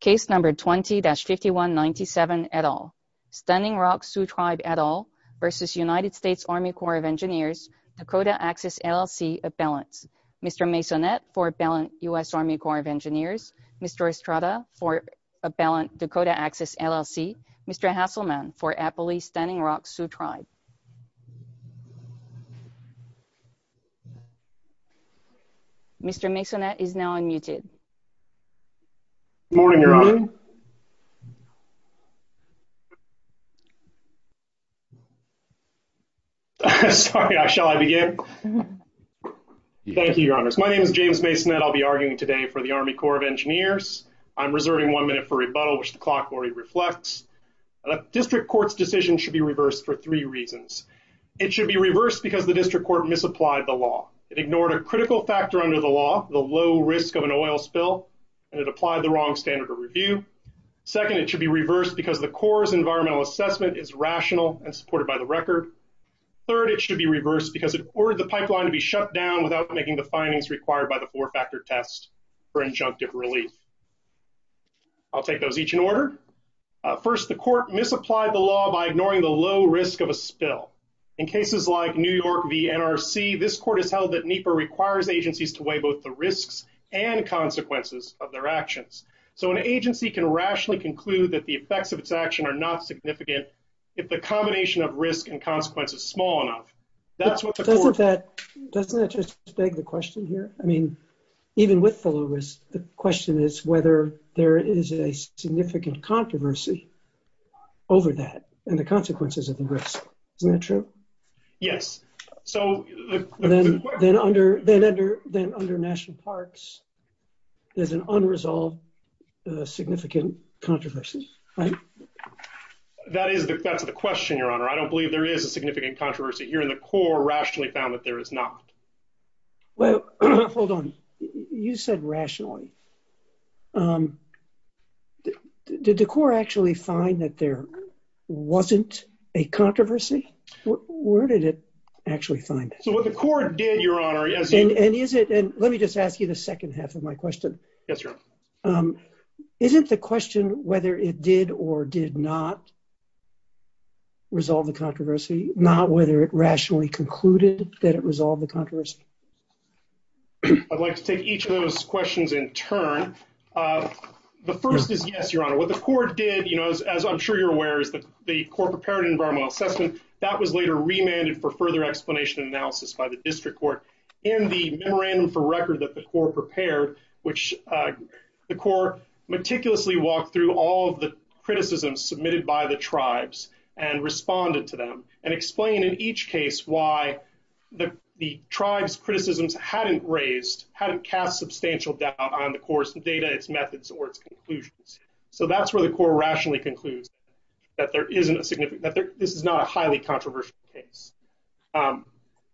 Case number 20-5197 et al. Stunning Rock Sioux Tribe et al. v. United States Army Corps of Engineers Dakota Access LLC of Balance. Mr. Maisonnet for Balance U.S. Army Corps of Engineers. Mr. Estrada for Balance Dakota Access LLC. Mr. Hasselman for Appley Stunning Rock Sioux Tribe. Mr. Maisonnet is now unmuted. Good morning, Your Honor. Sorry, shall I begin? Thank you, Your Honor. My name is James Maisonnet. I'll be arguing today for the Army Corps of Engineers. I'm reserving one minute for rebuttal, which the clock already reflects. A district court's decision should be reversed for three reasons. It should be reversed because the district court misapplied the law. It ignored a critical factor under the law, the low risk of an oil spill, and it applied the wrong standard of review. Second, it should be reversed because the Corps' environmental assessment is rational and supported by the record. Third, it should be reversed because it ordered the pipeline to be shut down without making the findings required by the four-factor test for injunctive relief. I'll take those each in order. First, the court misapplied the law by ignoring the low risk of a spill. In cases like New York v. NRC, this court has held that NEPA requires agencies to weigh both the risks and consequences of their actions. So an agency can rationally conclude that the effects of its action are not significant if the combination of risk and consequence is small enough. Doesn't that just beg the question here? I mean, even with the low risk, the question is whether there is a significant controversy over that and the consequences of the risk. Is that true? Yes. Then under national parks, there's an unresolved significant controversy, right? That is the question, Your Honor. I don't believe there is a significant controversy here. The Corps rationally found that there is not. Well, hold on. You said rationally. Did the Corps actually find that there wasn't a controversy? Where did it actually find it? So what the Corps did, Your Honor, yes. And let me just ask you the second half of my question. Yes, Your Honor. Is it the question whether it did or did not resolve the controversy, not whether it rationally concluded that it resolved the controversy? I'd like to take each of those questions in turn. The first is yes, Your Honor. What the Corps did, you know, as I'm sure you're aware, is the Corps prepared an environmental assessment. That was later remanded for further explanation and analysis by the district court. In the memorandum for record that the Corps prepared, which the Corps meticulously walked through all of the criticisms submitted by the tribes and responded to them and explained in each case why the tribes' criticisms hadn't raised, hadn't cast substantial doubt on the Corps' data, its methods, or its conclusions. So that's where the Corps rationally concludes that there isn't a significant, that this is not a highly controversial case.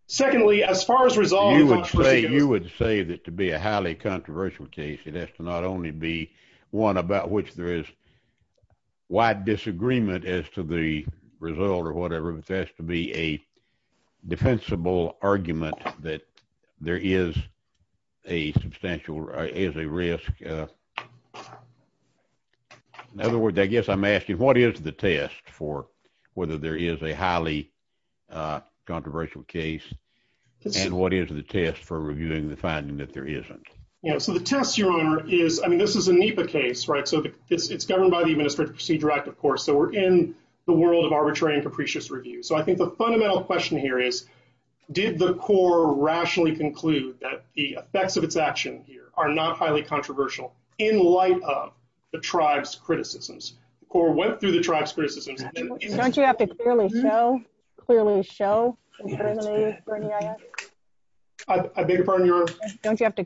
Secondly, as far as resolving controversy— You would say that to be a highly controversial case, it has to not only be one about which there is wide disagreement as to the result or whatever, it has to be a defensible argument that there is a substantial, is a risk. In other words, I guess I'm asking, what is the test for whether there is a highly controversial case, and what is the test for reviewing the finding that there isn't? Yeah, so the test, Your Honor, is, I mean, this is a NEPA case, right? So it's governed by the Arbitrary and Capricious Review. So I think the fundamental question here is, did the Corps rationally conclude that the effects of its action here are not highly controversial in light of the tribes' criticisms? The Corps went through the tribes' criticisms and— Don't you have to clearly show, clearly show— I beg your pardon, Your Honor? Don't you have to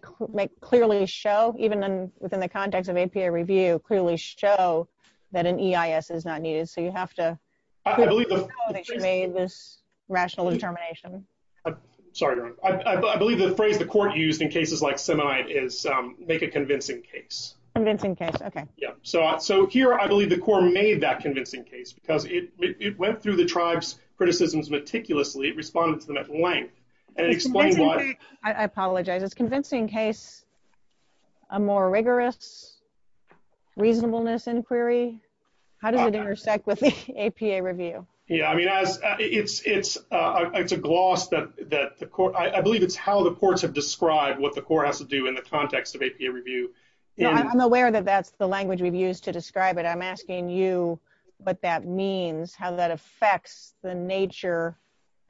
clearly show, even within the context of NEPA review, clearly show that an EIS is not needed? So you have to show that you made this rational determination. Sorry, Your Honor. I believe the phrase the Corps used in cases like Semonite is, make a convincing case. Convincing case, okay. Yeah. So here, I believe the Corps made that convincing case because it went through the tribes' criticisms meticulously. It responded to them at length, and it explained why— I apologize. It's convincing case, a more rigorous reasonableness inquiry? How does it intersect with APA review? Yeah, I mean, it's a gloss that the Corps—I believe it's how the Corps have described what the Corps has to do in the context of APA review. I'm aware that that's the language we've used to describe it. I'm asking you what that means, how that affects the nature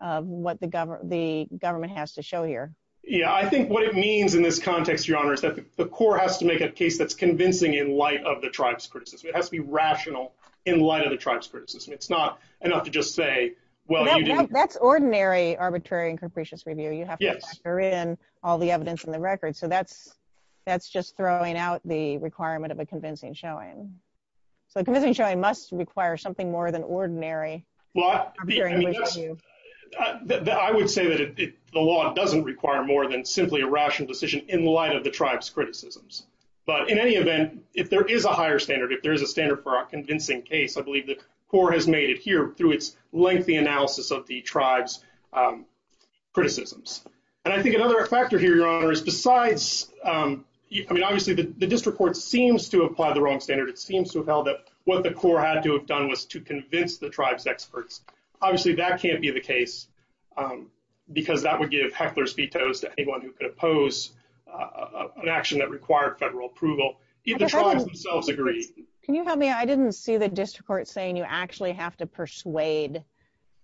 of what the government has to show here. Yeah, I think what it means in this context, Your Honor, is that the Corps has to make a case that's convincing in light of the tribes' criticism. It has to be rational in light of the tribes' criticism. It's not enough to just say, well, you didn't— That's ordinary arbitrary and capricious review. You have to factor in all the evidence in the record. So that's just throwing out the requirement of a convincing showing. So a convincing showing must require something more than ordinary. Well, I would say that the law doesn't require more than simply a rational decision in light of the tribes' criticisms. But in any event, if there is a higher standard, if there is a standard for a convincing case, I believe the Corps has made it here through its lengthy analysis of the tribes' criticisms. And I think another factor here, Your Honor, is besides—I mean, obviously, the district court seems to have applied the wrong standard. It seems to have what the Corps had to have done was to convince the tribes' experts. Obviously, that can't be the case because that would give heckler's vetoes to anyone who could oppose an action that required federal approval if the tribes themselves agree. Can you help me? I didn't see the district court saying you actually have to persuade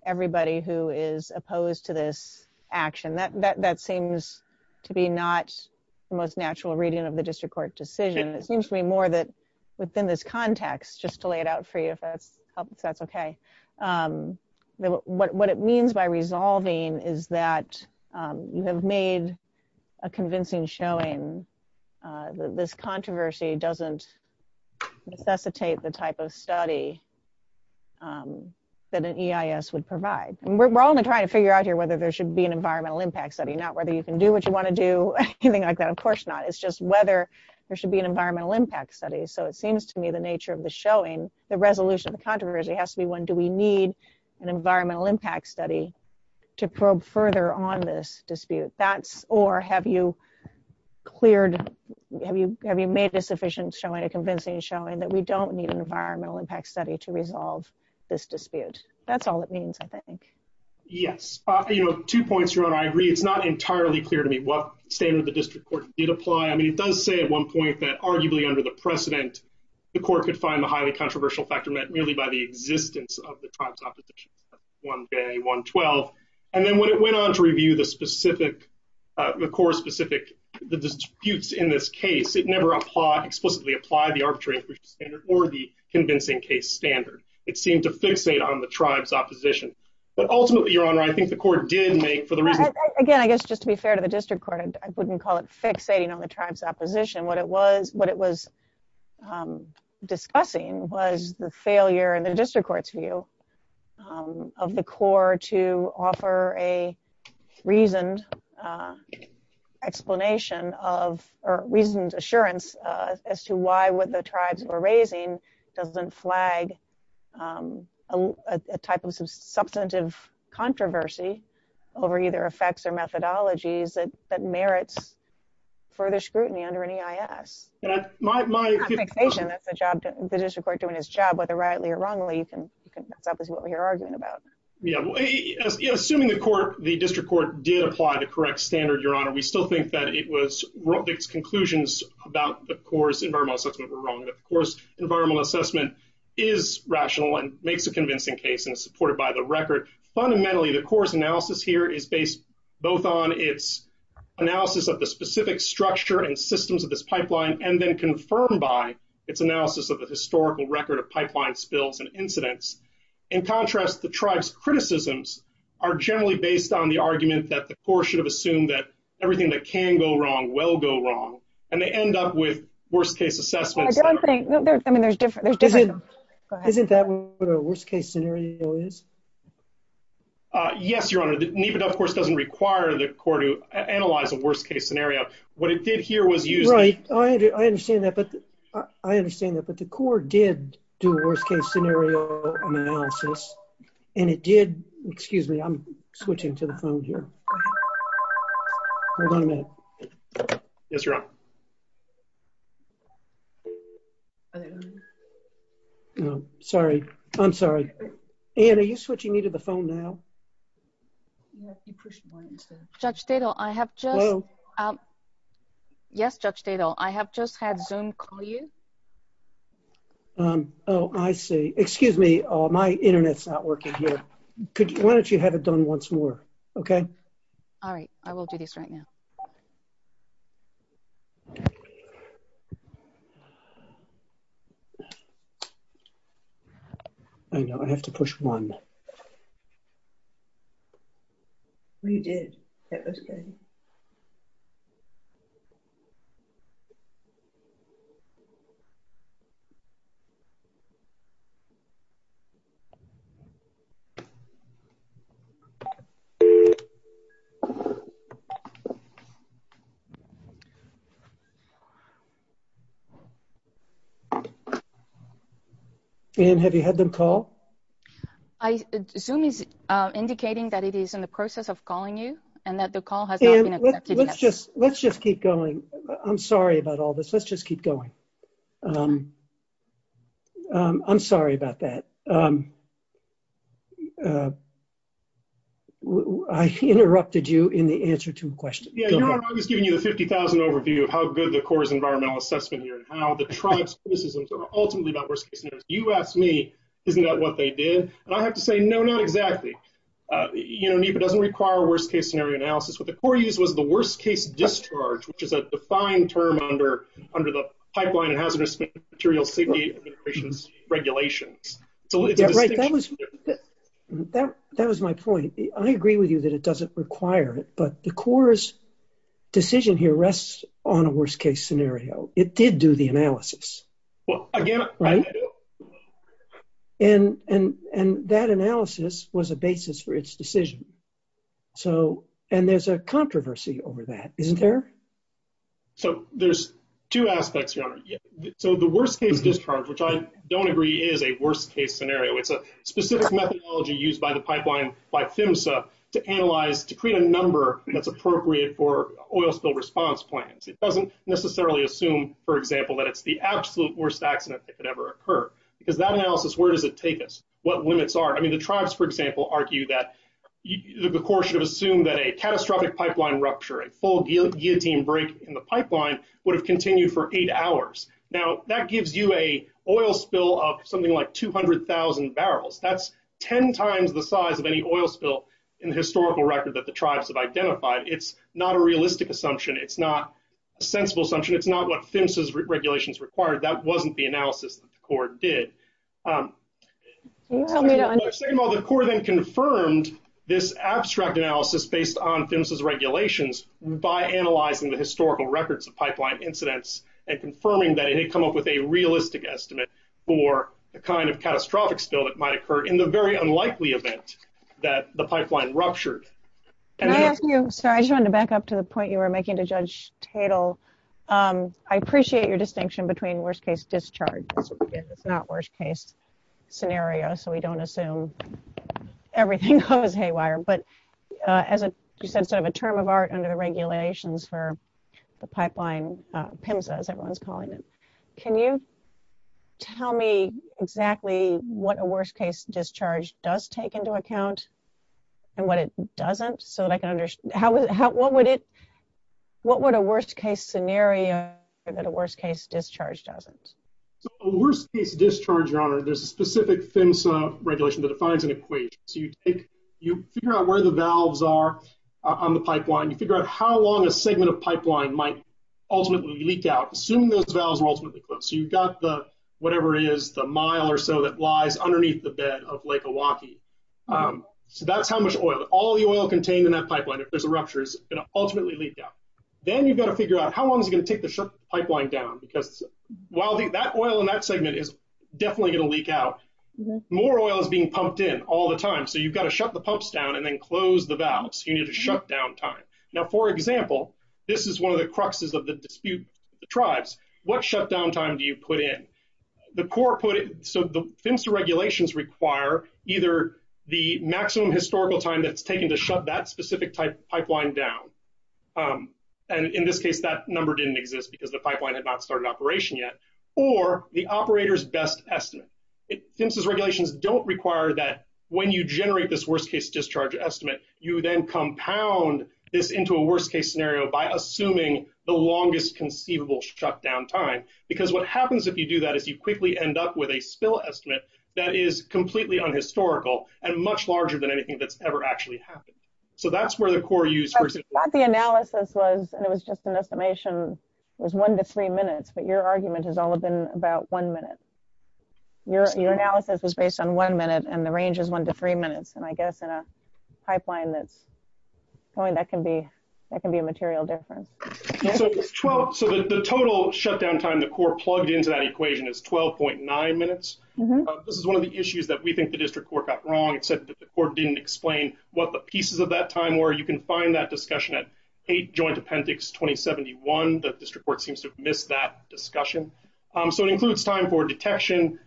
everybody who is opposed to this action. That seems to be not the most natural reading of the district court's decision. It seems to me more that within this context, just to lay it out for you if that's okay, what it means by resolving is that you have made a convincing showing that this controversy doesn't necessitate the type of study that an EIS would provide. And we're only trying to figure out here whether there should be an environmental impact study, not whether you can do what you want to do, anything like that. Of whether there should be an environmental impact study. So it seems to me the nature of the showing, the resolution of the controversy has to be when do we need an environmental impact study to probe further on this dispute. That's—or have you cleared—have you made a sufficient showing, a convincing showing that we don't need an environmental impact study to resolve this dispute? That's all it means, I think. Yes. You know, two points you're on, I agree. It's not entirely clear to me what standard the district court did apply. I mean, it does say at one point that arguably under the precedent, the court could find the highly controversial factor met merely by the existence of the tribe's opposition, 1A, 112. And then when it went on to review the specific, the core specific disputes in this case, it never explicitly applied the arbitrary or the convincing case standard. It seemed to fixate on the tribe's opposition. But ultimately, Your Honor, I think the court did make, for the reason— Again, I guess just to be fair to the district court, I wouldn't call it fixating on the tribe's opposition. What it was, what it was discussing was the failure in the district court's view of the core to offer a reasoned explanation of, or reasoned assurance as to why what the tribes were raising doesn't flag a type of substantive controversy over either effects or methodologies that merits further scrutiny under an EIS. That's a job, the district court doing its job, whether rightly or wrongly, that's what we're arguing about. Yeah. Assuming the court, the district court did apply the correct standard, Your Honor, we still think that its conclusions about the core's environmental assessment were wrong, that the core's environmental assessment is rational and makes a convincing case and supported by the record. Fundamentally, the core's analysis here is based both on its analysis of the specific structure and systems of this pipeline, and then confirmed by its analysis of the historical record of pipeline spills and incidents. In contrast, the tribe's criticisms are generally based on the well go wrong, and they end up with worst case assessments. I don't think, I mean, there's different. Isn't that what a worst case scenario is? Yes, Your Honor, NEPA of course doesn't require the core to analyze a worst case scenario. What it did here was use... Right, I understand that, but the core did do worst case scenario analysis, and it did... Excuse me, I'm switching to the phone here. Hold on a minute. Yes, Your Honor. Sorry, I'm sorry. Anne, are you switching me to the phone now? Judge Dado, I have just... Hello? Yes, Judge Dado, I have just had Zoom call you. Oh, I see. Excuse me, my internet's not working here. Why don't you have it done once more, okay? All right, I will do this right now. I know, I have to push one. We did. That was good. Okay. Anne, have you had them call? Zoom is indicating that it is in the process of calling you, and that the call has not been accepted yet. Anne, let's just keep going. I'm sorry about all this. Let's just keep going. I'm sorry about that. I interrupted you in the answer to a question. Yes, Your Honor, I was giving you a 50,000 overview of how good the core's environmental assessment here and how the tribe's criticisms are ultimately about worst case scenarios. You asked me, isn't that what they did? I have to say, no, not exactly. NEPA doesn't require worst case scenario analysis. What the core used was the worst case discharge, which is a defined term under the Pipeline and Hazardous Materials Safety Regulations. Right, that was my point. I agree with you that it doesn't require it, but the core's decision here rests on a worst case scenario. It did do the analysis. And that analysis was a basis for its decision. And there's a controversy over that, isn't there? So there's two aspects, Your Honor. So the worst case discharge, which I don't agree is a worst case scenario. It's a specific methodology used by the Pipeline by PHMSA to create a number that's appropriate for oil spill response plans. It doesn't necessarily assume, for example, that it's the absolute worst accident that could ever occur. Because that analysis, where does it take us? What limits are? I mean, the tribes, for example, argue that the core should assume that a catastrophic pipeline rupture, a full guillotine break in the pipeline, would have continued for eight hours. Now, that gives you an oil spill of something like 200,000 barrels. That's 10 times the size of any oil spill in the historical record that the tribes have identified. It's not a realistic assumption. It's not a sensible assumption. It's not what PHMSA's regulations required. That wasn't the analysis that the core did. The core then confirmed this abstract analysis based on PHMSA's regulations by analyzing the historical records of pipeline incidents and confirming that it had come up with a realistic estimate for the kind of catastrophic spill that might occur in the very unlikely event that the pipeline ruptured. I just wanted to back up to the point you were making to Judge Tatel. I appreciate your distinction between worst case discharge. Not worst case scenario, so we don't assume everything goes haywire. As you said, a term of art under the regulations for the pipeline, PHMSA as everyone's calling it. Can you tell me exactly what a worst case discharge does take into account and what it doesn't? What would a worst case scenario be that a worst case discharge doesn't? A worst case discharge, Your Honor, the specific PHMSA regulation that defines an equation. You figure out where the valves are on the pipeline. You figure out how long a segment of pipeline might ultimately leak out, assuming those valves are ultimately closed. You've got whatever it is, the mile or so that lies underneath the bed of Lake Milwaukee. That's how much oil. All the oil contained in that pipeline, if this ruptures, it's going to ultimately leak out. Then you've got to figure out how long is it going to take to shut the pipeline down because that oil in that segment is definitely going to leak out. More oil is being pumped in all the time, so you've got to shut the pumps down and then close the valves. You need to shut down time. Now, for example, this is one of the cruxes of the dispute with the tribes. What shutdown time do you put in? PHMSA regulations require either the maximum shutdown, and in this case, that number didn't exist because the pipeline had not started operation yet, or the operator's best estimate. PHMSA regulations don't require that when you generate this worst case discharge estimate, you then compound this into a worst case scenario by assuming the longest conceivable shutdown time because what happens if you do that is you quickly end up with a spill estimate that is completely unhistorical and much larger than anything that's actually happened. That's where the core use... The analysis was, and it was just an estimation, was one to three minutes, but your argument has always been about one minute. Your analysis is based on one minute and the range is one to three minutes, and I guess in a pipeline that's going, that can be a material difference. The total shutdown time the core plugged into that equation is 12.9 minutes. This is one of the issues that we think the district court got wrong. It said that the court didn't explain what the pieces of that time were. You can find that discussion at 8 Joint Appendix 2071, but district court seems to have missed that discussion. So, it includes time for detection,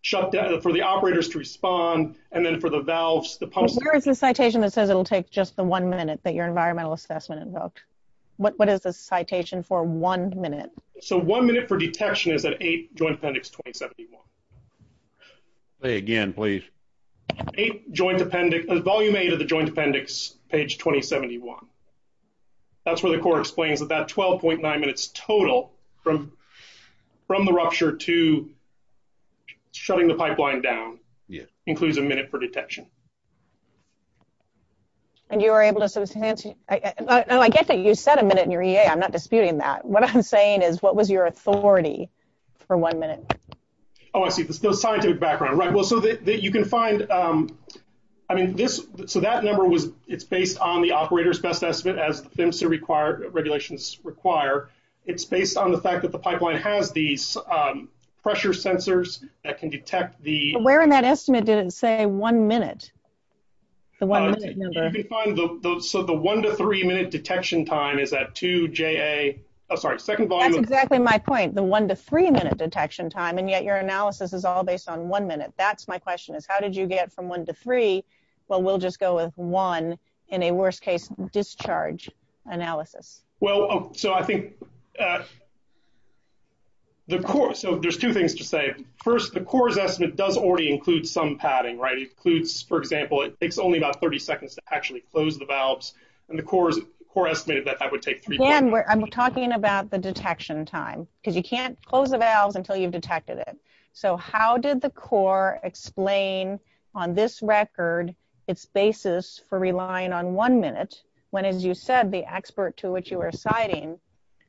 shutdown for the operators to respond, and then for the valves. Where is the citation that says it'll take just the one minute that your environmental assessment invoked? What is the citation for one minute? So, one minute for detection is at 8 Joint Appendix 2071. Say again, please. 8 Joint Appendix... Volume 8 of the Joint Appendix, page 2071. That's where the court explains that that 12.9 minutes total from the rupture to shutting the pipeline down includes a minute for detection. And you were able to... I guess you said a minute in your EA. I'm not disputing that. What I'm saying is, what was your authority for one minute? Oh, I see. The scientific background. Right. Well, so that you can find... I mean, this... So, that number was... It's based on the operator's best estimate, as the FEMSA regulations require. It's based on the fact that the pipeline has these pressure sensors that can detect the... Where in that estimate did it say one minute? The one minute number. So, the one to three minute detection time is at 2 JA... Oh, sorry. Second volume... That's exactly my point. The one to three minute detection time. And yet, your analysis is all based on one minute. That's my question is, how did you get from one to three? Well, we'll just go with one in a worst case discharge analysis. Well, so I think the court... So, there's two things to say. First, the court's estimate does already include some padding, right? It includes, for example, it takes only about 30 seconds to actually close the valves. And the court estimated that that would take three... Again, I'm talking about the detection time, because you can't close the valves until you've detected it. So, how did the court explain on this record its basis for relying on one minute, when as you said, the expert to which you were citing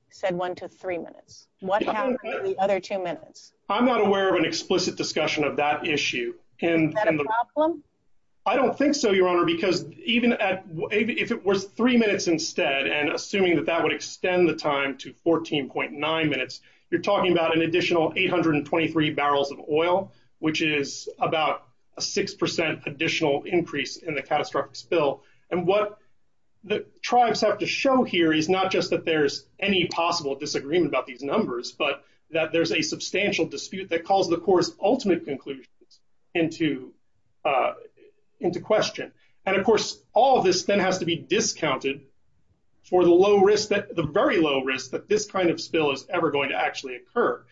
said one to three minutes? What happened to the other two minutes? I'm not aware of an explicit discussion of that issue. Is that a problem? I don't think so, Your Honor, because even if it was three minutes instead, and assuming that that would extend the time to 14.9 minutes, you're talking about an additional 823 barrels of oil, which is about a 6% additional increase in the catastrophic spill. And what the tribes have to show here is not just that there's any possible disagreement about these numbers, but that there's a substantial dispute that calls the court's ultimate conclusion into question. And of course, all of this then has to be discounted for the very low risk that this kind of spill is ever going to actually occur.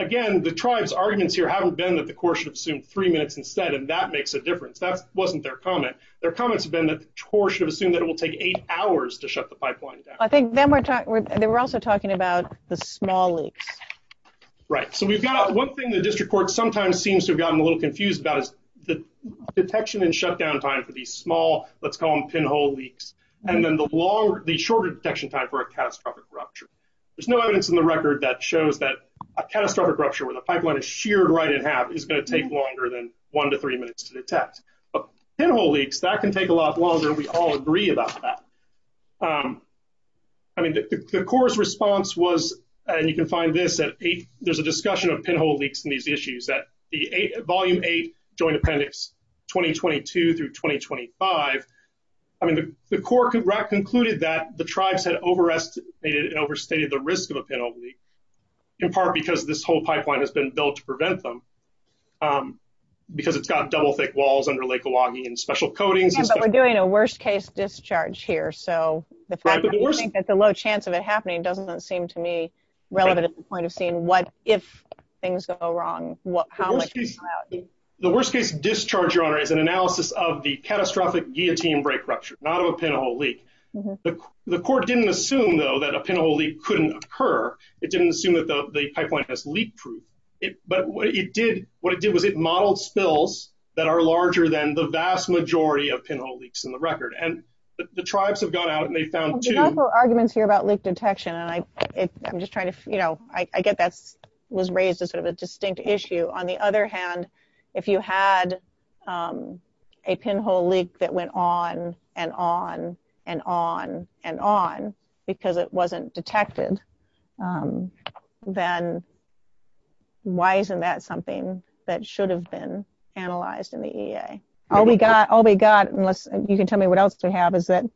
Again, the tribe's arguments here haven't been that the court should assume three minutes instead, and that makes a difference. That wasn't their comment. Their comment has been that the court should assume that it will take eight hours to shut the pipeline down. And then we're also talking about the small leaks. Right. So we've got one thing that this report sometimes seems to have gotten a little confused about is the detection and shutdown time for these small, let's call them pinhole leaks, and then the shorter detection time for a catastrophic rupture. There's no evidence in the record that shows that a catastrophic rupture where the pipeline is sheared right in half is going to take longer than one to three minutes to detect. But pinhole leaks, that can take a lot longer. We all agree about that. I mean, the court's response was, and you can find this, that there's a discussion of pinhole leaks in these issues, that Volume 8, Joint Appendix 2022 through 2025. I mean, the court concluded that the tribes had overestimated and overstated the risk of a pinhole leak, in part because this whole pipeline has been built to prevent them, um, because it's got double thick walls under Lake Oahu and special coatings. But we're doing a worst case discharge here. So the fact that there's a low chance of it happening doesn't seem to me relevant at the point of seeing what if things go wrong. The worst case discharge, Your Honor, is an analysis of the catastrophic guillotine break rupture, not of a pinhole leak. The court didn't assume, though, that a pinhole leak couldn't occur. It didn't assume that the pipeline has leak proof. But what it did, what it did was it modeled spills that are larger than the vast majority of pinhole leaks on the record. And the tribes have gone out and they found two... There's also arguments here about leak detection. And I'm just trying to, you know, I get that was raised as sort of a distinct issue. On the other hand, if you had, um, a pinhole leak that went on and on and on and on because it wasn't detected, then why isn't that something that should have been analyzed in the EA? All we got, all we got, unless you can tell me what else to have, is that,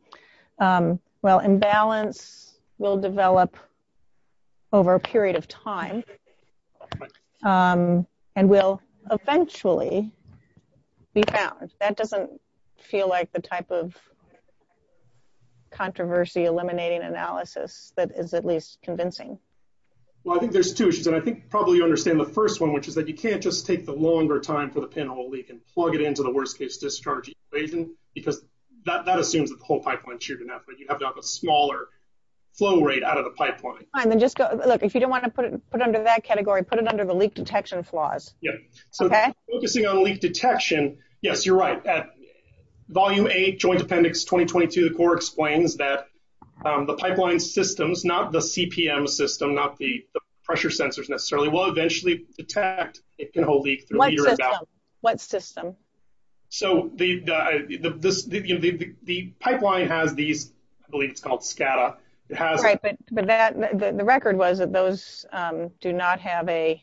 well, imbalance will develop over a period of time and will eventually be balanced. That doesn't feel like the type of controversy eliminating analysis that is at least convincing. Well, I think there's two issues. And I think probably you understand the first one, which is that you can't just take the longer time for the pinhole leak and plug it into the worst case discharge equation, because that assumes the whole pipeline should not, but you have to have a smaller flow rate out of the pipeline. And then just, look, if you don't want to put it under that category, put it under the leak detection flaws. Yeah. So focusing on leak detection. Yes, you're right. That volume eight joint appendix 2022 core explains that the pipeline systems, not the CPM system, not the pressure sensors necessarily, will eventually detect a pinhole leak. What system? So the pipeline has these, I believe it's called SCADA. The record was that those do not have a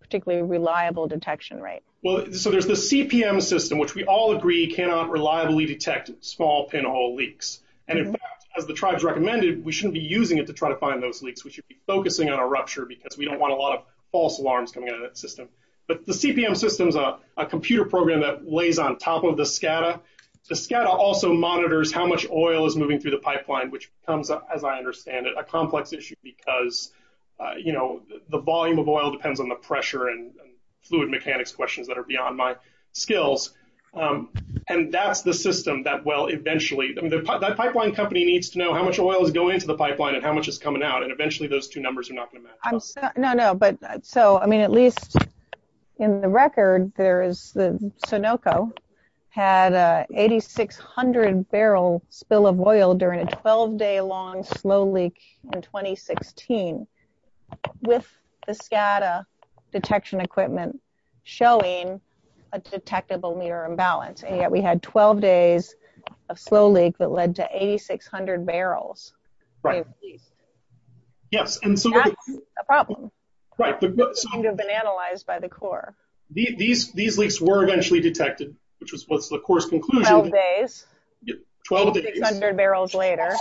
particularly reliable detection rate. Well, so there's the CPM system, which we all agree cannot reliably detect small pinhole leaks. And in fact, as the tribes recommended, we shouldn't be using it to try to find those leaks. We should be focusing on a rupture because we don't want a lot of false alarms coming out of that system. But the CPM system is a computer program that lays on top of the SCADA. The SCADA also monitors how much oil is moving through the pipeline, which becomes, as I understand it, a complex issue because the volume of oil depends on the pressure and fluid mechanics questions that are beyond my skills. And that's the system that, well, pipeline company needs to know how much oil is going into the pipeline and how much is coming out. And eventually those two numbers are not going to match. No, no. But so, I mean, at least in the record, there is the Sunoco had a 8,600 barrel spill of oil during a 12-day long slow leak in 2016 with the SCADA detection equipment showing a detectable mirror imbalance. And yet we had 12 days of slow leak that led to 8,600 barrels. Right. Yes. And so. That's a problem. Right. So. It would have been analyzed by the Corps. These leaks were eventually detected, which is what's the course conclusion. 12 days. 12 days. 600 barrels later.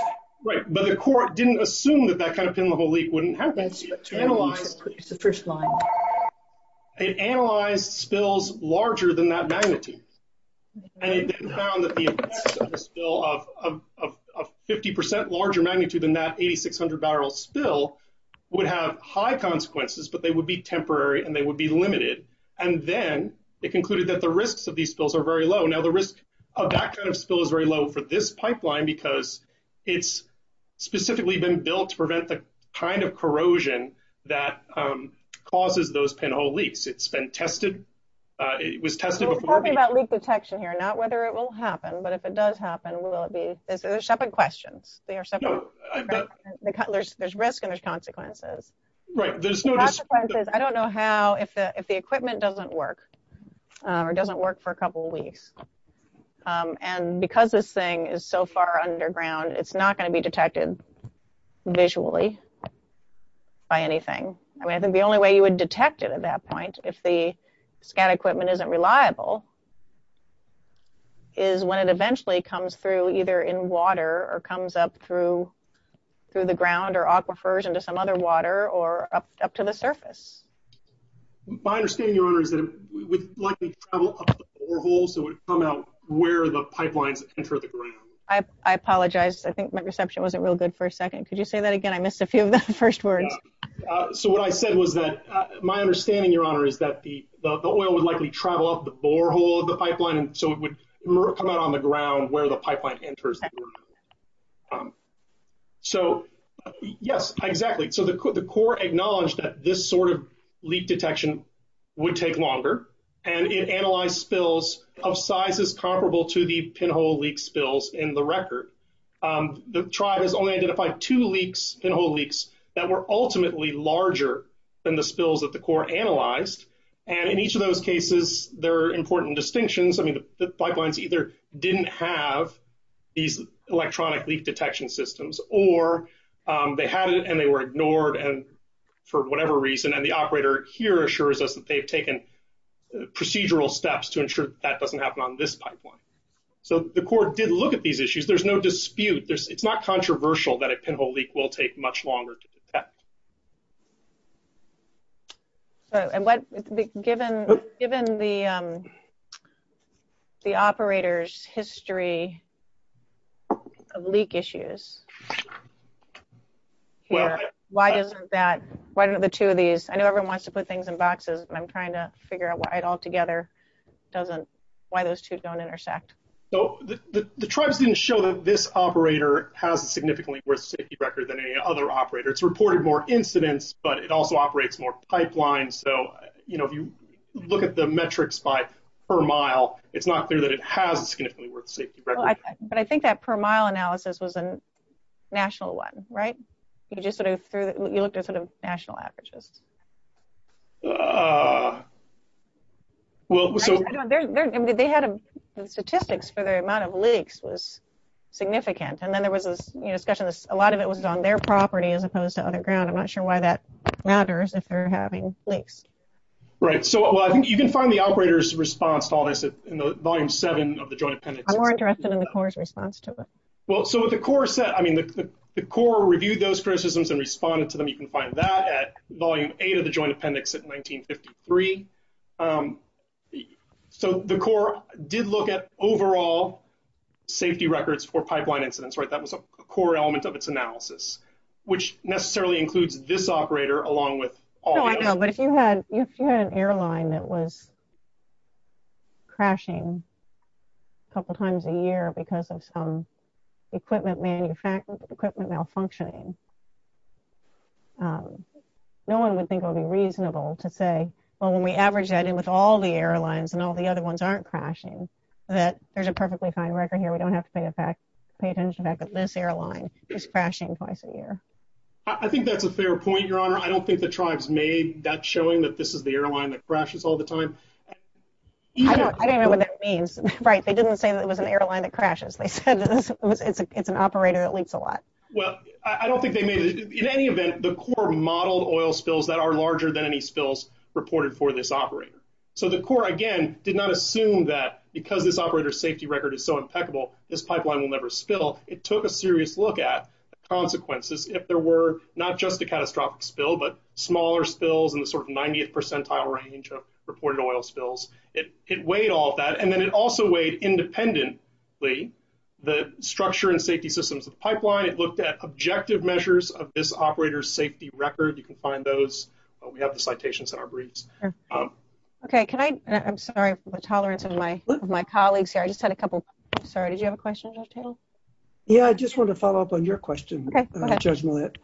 Right. But the Corps didn't assume that that kind of thing, the whole leak wouldn't happen. It's the first line. It analyzed spills larger than that magnitude. And it found that the spill of 50% larger magnitude than that 8,600 barrel spill would have high consequences, but they would be temporary and they would be limited. And then they concluded that the risks of these spills are very low. Now, the risk of that kind of spill is very low for this pipeline because it's specifically been built to prevent the kind of corrosion that causes those pinhole leaks. It's been tested. It was tested before. We're talking about leak detection here. Not whether it will happen, but if it does happen, will it be? It's a separate question. There's risk and there's consequences. Right. There's consequences. I don't know how, if the equipment doesn't work or doesn't work for a couple of weeks. And because this thing is so far underground, it's not going to be detected visually by anything. I mean, I think the only way you would detect it at that point, if the scan equipment isn't reliable, is when it eventually comes through either in water or comes up through the ground or aquifers into some other water or up to the surface. My understanding, Your Honor, is that it would likely travel up the borehole so it would come out where the pipelines enter the ground. I apologize. I think my reception wasn't real good for a second. Could you say that again? I missed a few of the first words. So, what I said was that my understanding, Your Honor, is that the oil would likely travel up the borehole of the pipeline so it would come out on the ground where the pipeline enters the ground. So, yes, exactly. So, the Corps acknowledged that this sort of leak detection would take longer and it analyzed spills of sizes comparable to the pinhole leak spills in the record. The tribe has only identified two pinhole leaks that were ultimately larger than the spills that the Corps analyzed. And in each of those cases, there are important distinctions. I mean, the pipelines either didn't have these electronic leak detection systems or they had it and they were ignored for whatever reason. And the operator here assures us that they've taken procedural steps to ensure that that doesn't happen on this pipeline. So, the Corps did look at these issues. There's no dispute. It's not controversial that a pinhole leak will take much longer to detect. And given the operator's history of leak issues, why don't the two of these, I know everyone wants to put things in boxes, but I'm trying to figure out why it all together doesn't, why those two don't intersect. So, the tribes didn't show that this operator has a significantly worse safety record than any other operator. It's reported more incidents, but it also operates more pipelines. So, if you look at the metrics by per mile, it's not clear that it has a significantly worse safety record. But I think that per mile analysis was a national one, right? You looked at sort of national averages. And they had statistics for the amount of leaks was significant. And then there was a discussion, a lot of it was on their property as opposed to underground. I'm not sure why that matters if they're having leaks. Right. So, I think you can find the operator's response to all this in Volume 7 of the Joint Penalty Report. I'm more interested in the Corps' response to it. Well, so with the Corps, I mean, the Corps reviewed those criticisms and responded to them. You can find that at Volume 8 of the Joint Appendix at 1953. So, the Corps did look at overall safety records for pipeline incidents, right? That was a core element of its analysis, which necessarily includes this operator along with all the others. No, I know, but if you had an airline that was crashing a couple times a year because of some equipment malfunctioning, no one would think it would be reasonable to say, well, when we average that in with all the airlines and all the other ones aren't crashing, that there's a perfectly fine record here. We don't have to pay attention to the fact that this airline is crashing twice a year. I think that's a fair point, Your Honor. I don't think the tribes made that showing that this is the airline that crashes all the time. I don't know what that means. Right. They didn't say that it was an airline that crashes. They said it's an operator that leaks a lot. Well, I don't think they made it. In any event, the Corps modeled oil spills that are larger than any spills reported for this operator. So, the Corps, again, did not assume that because this operator's safety record is so impeccable, this pipeline will never spill. It took a serious look at the consequences if there were not just a catastrophic spill, but smaller spills in the sort of 90th percentile range of reported oil spills. It weighed all that, and then it also independently the structure and safety systems of the pipeline. It looked at objective measures of this operator's safety record. You can find those. We have the citations in our briefs. Okay. Can I... I'm sorry for the tolerance of my colleagues here. I just had a couple... Sorry. Did you have a question, Judge Tatum? Yeah. I just want to follow up on your question, Judge Millett.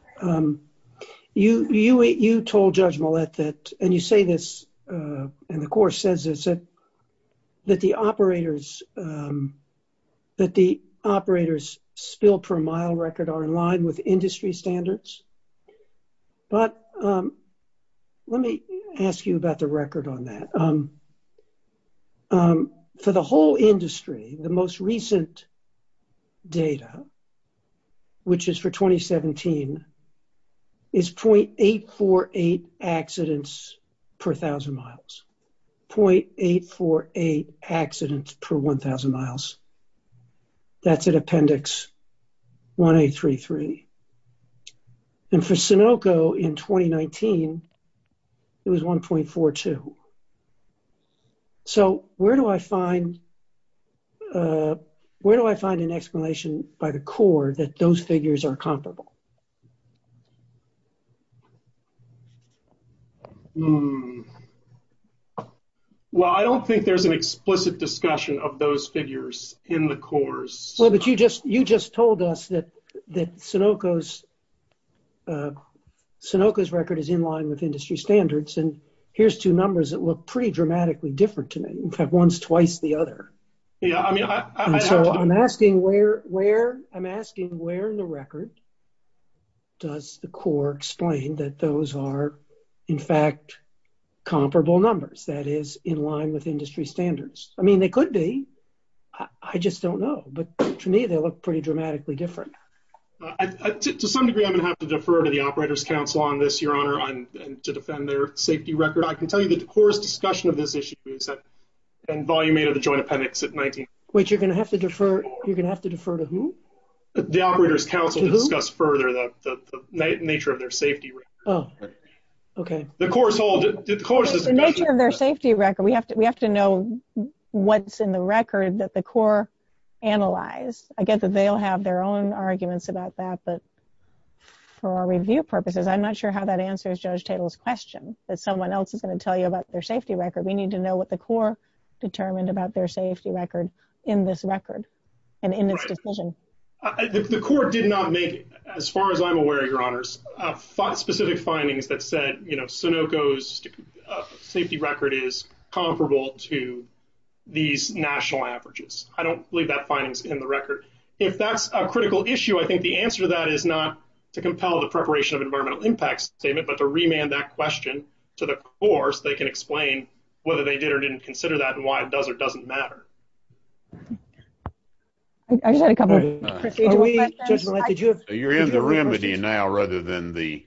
You told Judge Millett that, and you say this, and the Corps says this, that the operators' spill per mile record are in line with industry standards. But let me ask you about the record on that. For the whole industry, the most recent data, which is for 2017, is 0.848 accidents per 1,000 miles. 0.848 accidents per 1,000 miles. That's at Appendix 1833. And for Sunoco in 2019, it was 1.42. So, where do I find an explanation by the Corps that those figures are comparable? Well, I don't think there's an explicit discussion of those figures in the Corps. Well, but you just told us that Sunoco's record is in line with industry standards. And here's two numbers that look pretty dramatically different to me. In fact, one's twice the other. And so, I'm asking where in the record does the Corps explain that those are, in fact, comparable numbers, that is, in line with industry standards? I mean, they could be. I just don't know. But to me, they look pretty dramatically different. To some degree, I'm going to have to defer to the Operators' Council on this, Your Honor, to defend their safety record. I can tell you that the Corps' discussion of this issue in Volume 8 of the Joint Appendix in 19- Wait, you're going to have to defer to whom? The Operators' Council to discuss further the nature of their safety record. Oh, okay. We have to know what's in the record that the Corps analyzed. I guess that they'll have their own arguments about that. But I'm not sure how that answers Judge Tittle's question, that someone else is going to tell you about their safety record. We need to know what the Corps determined about their safety record in this record and in this decision. The Corps did not make, as far as I'm aware, Your Honors, specific findings that said Sunoco's safety record is comparable to these national averages. I don't believe that finding's in the record. If that's a critical issue, I think the answer to that is not to compel the Preparation of Environmental Impact Statement, but to remand that question to the Corps so they can explain whether they did or didn't consider that and why it does or doesn't matter. So you're in the room with you now rather than the-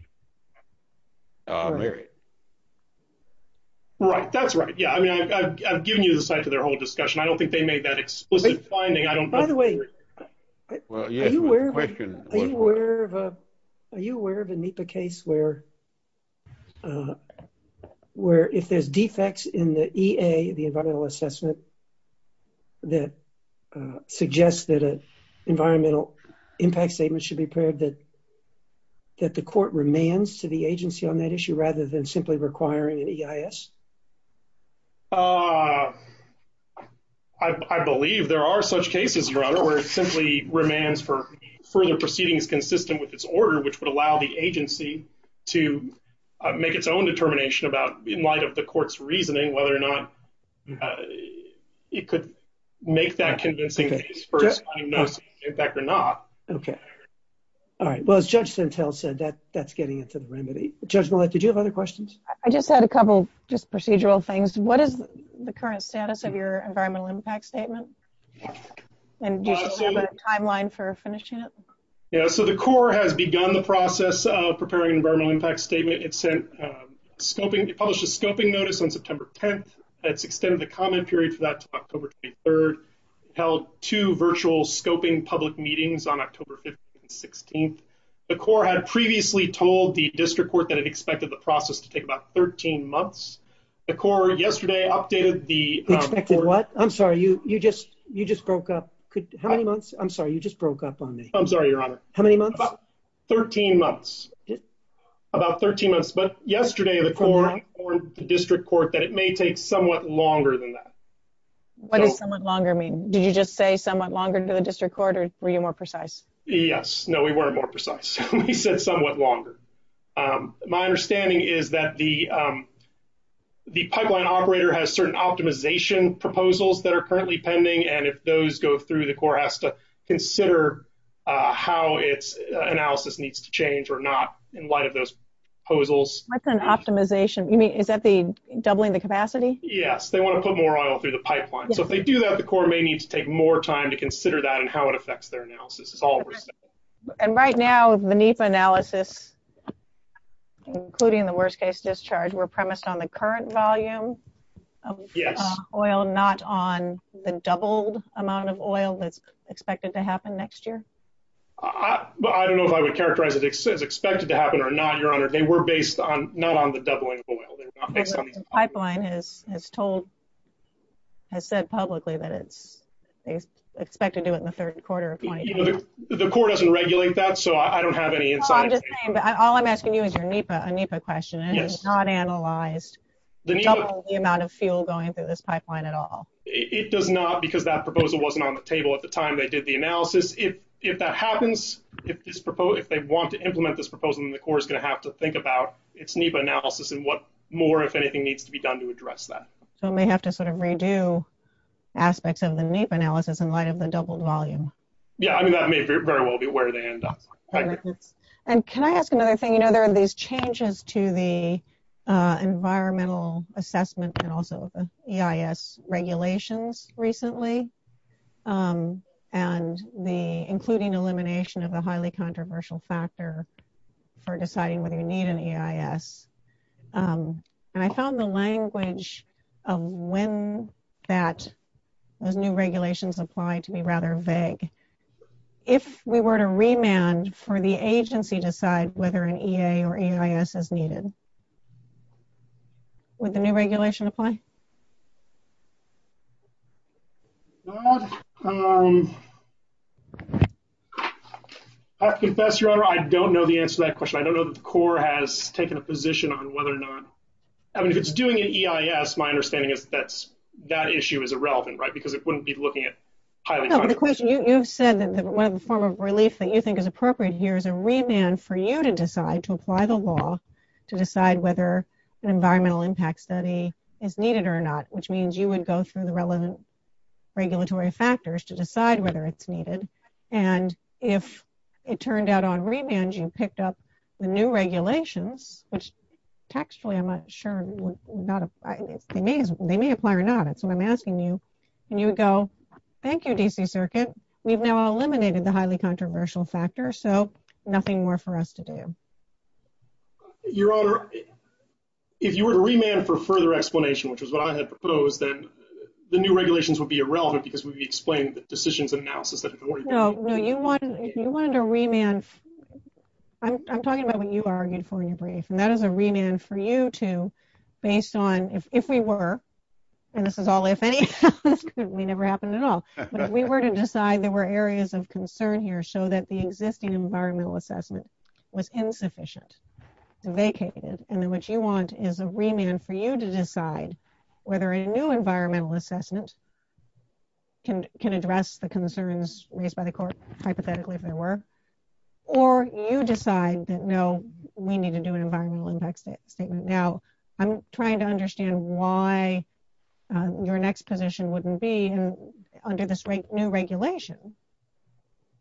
Right, that's right. Yeah, I mean, I've given you the site for their whole discussion. I don't think they made that explicit finding. I don't- By the way, are you aware of a NEPA case where if there's defects in the EA, the Environmental Assessment, that suggests that an Environmental Impact Statement should be prepared that the court remands to the agency on that issue rather than simply requiring an EIS? I believe there are such cases, Your Honor, where it simply remands for further proceedings consistent with its order, which would allow the agency to make its own determination about, in light of the court's reasoning, whether or not it could make that convincing case for its own environmental impact or not. Okay. All right. Well, as Judge Sintel said, that's getting into the remedy. Judge Millett, did you have other questions? I just had a couple just procedural things. What is the current status of your Environmental Impact Statement? And do you have a timeline for finishing it? So the court has begun the process of preparing Environmental Impact Statement. It published a scoping notice on September 10th. It's extended the commentary for that to October 23rd. It held two virtual scoping public meetings on October 15th and 16th. The court had previously told the process to take about 13 months. The court yesterday updated the- Expected what? I'm sorry. You just broke up. How many months? I'm sorry. You just broke up on me. I'm sorry, Your Honor. How many months? About 13 months. About 13 months. But yesterday, the court warned the district court that it may take somewhat longer than that. What does somewhat longer mean? Did you just say somewhat longer than the district court, or were you more precise? Yes. No, we were more precise. We said somewhat longer. My understanding is that the pipeline operator has certain optimization proposals that are currently pending, and if those go through, the court has to consider how its analysis needs to change or not in light of those proposals. What's an optimization? Is that the doubling the capacity? Yes. They want to put more oil through the pipeline. So if they do that, the court may need to take more time to consider that and how it affects their analysis. Okay. And right now, the NEPA analysis, including the worst-case discharge, were premised on the current volume of oil, not on the doubled amount of oil that's expected to happen next year? I don't know if I would characterize it as expected to happen or not, Your Honor. They were based not on the doubling of oil. Pipeline has said publicly that it's expected to do it in the third quarter of 2020. The court doesn't regulate that, so I don't have any insight. All I'm asking you is your NEPA question. It does not analyze the amount of fuel going through this pipeline at all. It does not because that proposal wasn't on the table at the time they did the analysis. If that happens, if they want to implement this proposal, then the court is going to have to its NEPA analysis and what more, if anything, needs to be done to address that. They may have to sort of redo aspects of the NEPA analysis in light of the doubled volume. Yeah, I mean, that may very well be where they end up. And can I ask another thing? You know, there are these changes to the environmental assessment and also the EIS regulations recently, and the including elimination of a highly controversial factor for deciding whether you need an EIS. I found the language of when that new regulations apply to be rather vague. If we were to remand for the agency to decide whether an EA or EIS is needed, would the new regulation apply? Well, I have to confess, Your Honor, I don't know the answer to that question. I don't know that the court has taken a position on whether or not, I mean, if it's doing an EIS, my understanding is that that issue is irrelevant, right? Because it wouldn't be looking at highly controversial issues. You've said that one form of release that you think is appropriate here is a remand for you to decide to apply the law to decide whether the environmental impact study is needed or not, which means you would go through the relevant regulatory factors to decide whether it's needed. And if it turned out on remand, you picked up the new regulations, which textually, I'm not sure, they may apply or not. That's what I'm asking you. And you would go, thank you, D.C. Circuit, we've now eliminated the highly controversial factor, so nothing more for us to do. Your Honor, if you were to remand for further explanation, which is what I had proposed, then the new regulations would be irrelevant because we explained the decisions and analysis. No, no, if you wanted a remand, I'm talking about what you argued for your brief, and that is a remand for you to, based on, if we were, and this is all if any, we never happened at all, but if we were to decide there were areas of concern here, so that the existing environmental assessment was insufficient, vacated, and then what you want is a remand for you to decide whether a new environmental assessment can address the concerns raised by the court, hypothetically, if there were, or you decide that, no, we need to do an environmental impact statement. Now, I'm trying to understand why your next position wouldn't be under this new regulation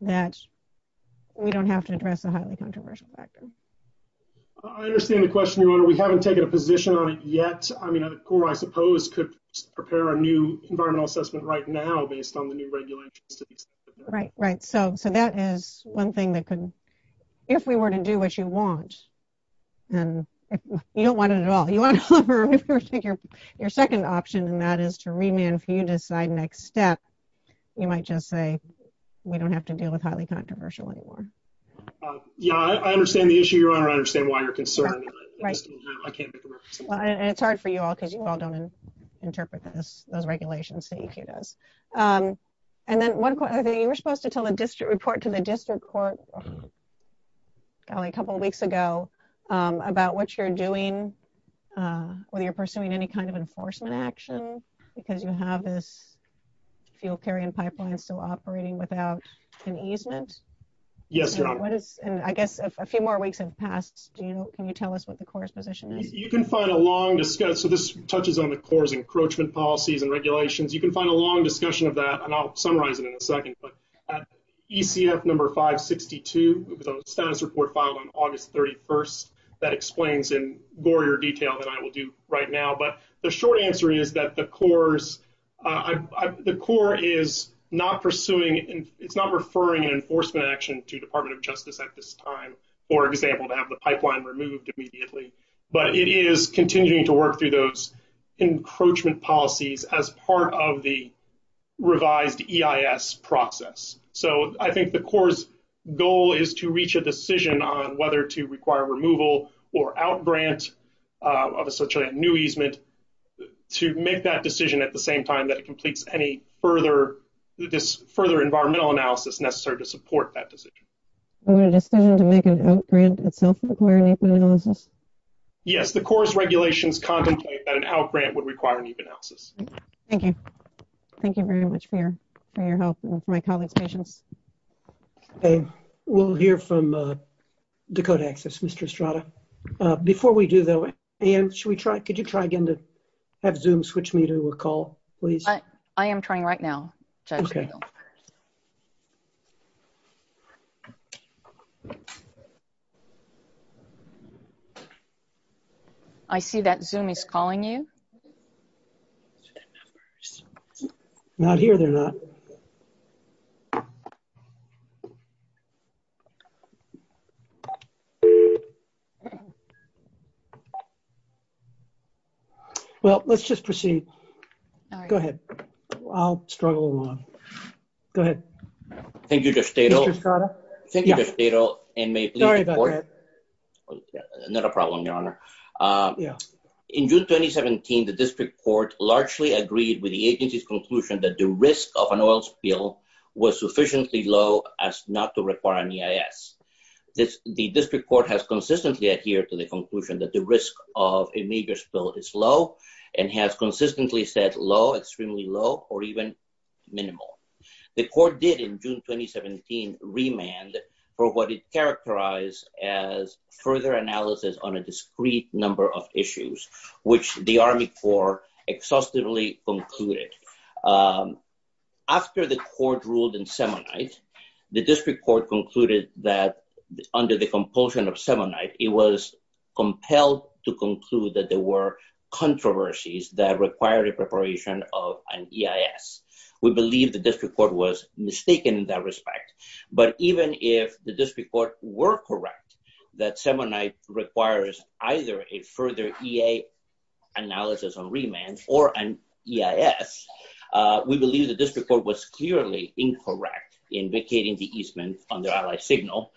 that we don't have to address the highly controversial factors. I understand the question, Your Honor. We haven't taken a position on it yet. I mean, a court, I suppose, could prepare a new environmental assessment right now based on the new regulations. Right, right, so that is one thing that could, if we were to do what you want, and you don't want it at all, you want to cover your second option, and that is to remand for you to decide next step, you might just say, we don't have to deal with highly controversial anymore. Yeah, I understand the issue, Your Honor. I understand why you're concerned. And it's hard for you all, because you all don't interpret those regulations. And then, you were supposed to tell a district report to the district court, probably a couple of weeks ago, about what you're doing, whether you're pursuing any kind of enforcement action, because you have this fuel carrying pipeline still operating without an easement. Yes, Your Honor. And I guess if a few more weeks have passed, do you, can you tell us what the court's position is? You can find a long discussion, so this touches on the court's encroachment policies and regulations, you can find a long discussion of that, and I'll summarize it in a second, but at ECF number 562, the status report filed on August 31st, that explains in more detail than I will do right now, but the short answer is that the court is not pursuing, it's not referring an enforcement action to Department of Justice at this time, for example, to have the pipeline removed immediately, but it is continuing to encroachment policies as part of the revised EIS process. So, I think the court's goal is to reach a decision on whether to require removal or out-grant of such a new easement, to make that decision at the same time that completes any further, this further environmental analysis necessary to support that decision. Yes, the court's regulations contemplate how a grant would require an easement analysis. Thank you. Thank you very much for your help. We'll hear from Dakota Access, Mr. Estrada. Before we do that, Ann, should we try, could you try again to have Zoom switch me to a call, please? I am trying right now. Okay. I see that Zoom is calling you. Not here, they're not. Okay. Well, let's just proceed. Go ahead. I'll struggle along. Go ahead. Thank you, Judge Tatel. Thank you, Judge Tatel, and may I please report? Sorry about that. Not a problem, Your Honor. In June 2017, the district court largely agreed with the agency's that the risk of an oil spill was sufficiently low as not to require an EIS. The district court has consistently adhered to the conclusion that the risk of a major spill is low and has consistently said low, extremely low, or even minimal. The court did in June 2017 remand for what is characterized as further analysis on a discrete number of issues, which the Army Corps exhaustively concluded. After the court ruled in Semonite, the district court concluded that under the compulsion of Semonite, it was compelled to conclude that there were controversies that required a preparation of an EIS. We believe the district court was mistaken in that respect, but even if the district court were correct that Semonite requires either a further EA analysis on remand or an EIS, we believe the district court was clearly incorrect in vacating the easement under Allied Signal,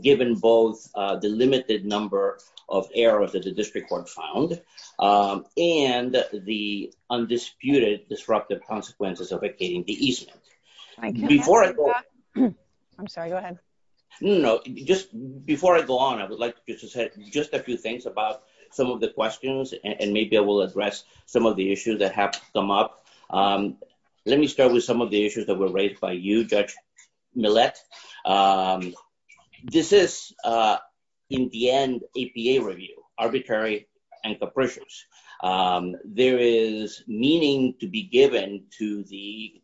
given both the limited number of errors that the district court found and the undisputed disruptive consequences of vacating the easement. I'm sorry. Go ahead. No, no. Just before I go on, I would like to say just a few things about some of the questions, and maybe I will address some of the issues that have come up. Let me start with some of the issues that were raised by you, Judge Millett. This is, in the end, APA review, arbitrary and capricious. There is meaning to be given to the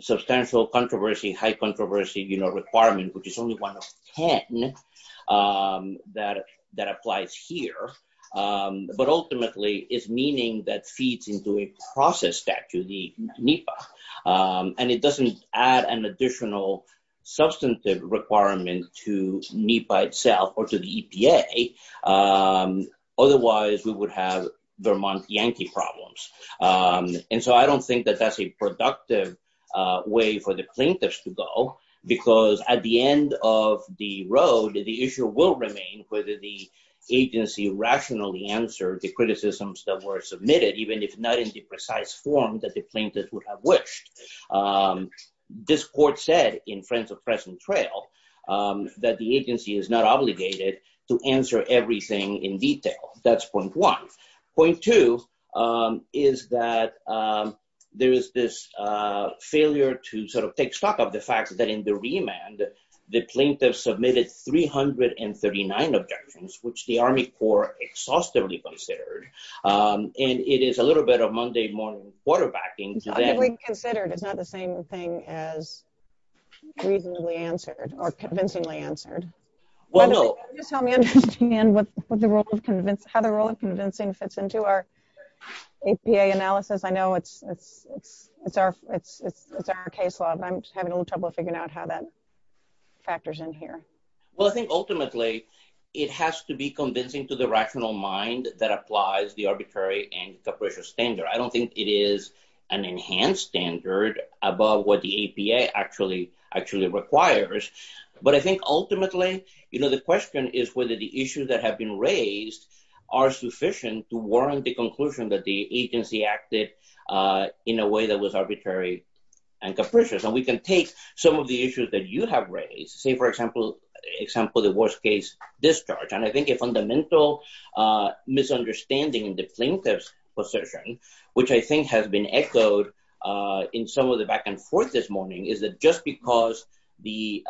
substantial controversy, high controversy, you know, requirement, which is only one of 10 that applies here, but ultimately is meaning that feeds into a process statute, the NEPA, and it doesn't add an additional substantive requirement to NEPA itself or to the EPA. Otherwise, we would have Vermont Yankee problems, and so I don't think that that's a productive way for the plaintiffs to go, because at the end of the road, the issue will remain whether the agency rationally answered the criticisms that were submitted, even if not in the precise form that the plaintiffs would have wished. This court said in Friends of Fresno Trail that the agency is not obligated to answer everything in detail. That's point one. Point two is that there is this failure to sort of take stock of the fact that in the remand, the plaintiffs submitted 339 objections, which the Army Corps exhaustively considered, and it is a little bit of Monday morning quarterbacking. It's not to be considered. It's not the same thing as reasonably answered or convincingly fits into our APA analysis. I know it's our case law, but I'm just having a little trouble figuring out how that factors in here. Well, I think ultimately, it has to be convincing to the rational mind that applies the arbitrary and the pressure standard. I don't think it is an enhanced standard above what the APA actually requires, but I think ultimately, the question is whether the issues that have been raised are sufficient to warrant the conclusion that the agency acted in a way that was arbitrary and capricious. We can take some of the issues that you have raised, say, for example, the worst case discharge. I think a fundamental misunderstanding in the plaintiff's position, which I think has been echoed in some of the back and forth this morning, is that just because the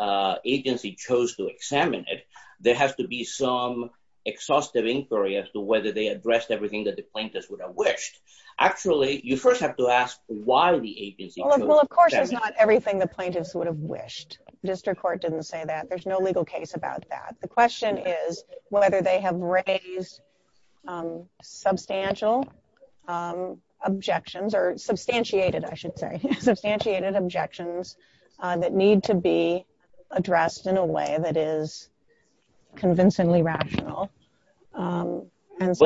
agency chose to examine it, there has to be some exhaustive inquiry as to whether they addressed everything that the plaintiffs would have wished. Actually, you first have to ask why the agency- Well, of course, it's not everything the plaintiffs would have wished. District Court didn't say that. There's no legal case about that. The question is whether they have raised substantial objections or substantiated, I should say, substantiated objections that need to be addressed in a way that is convincingly rational. That's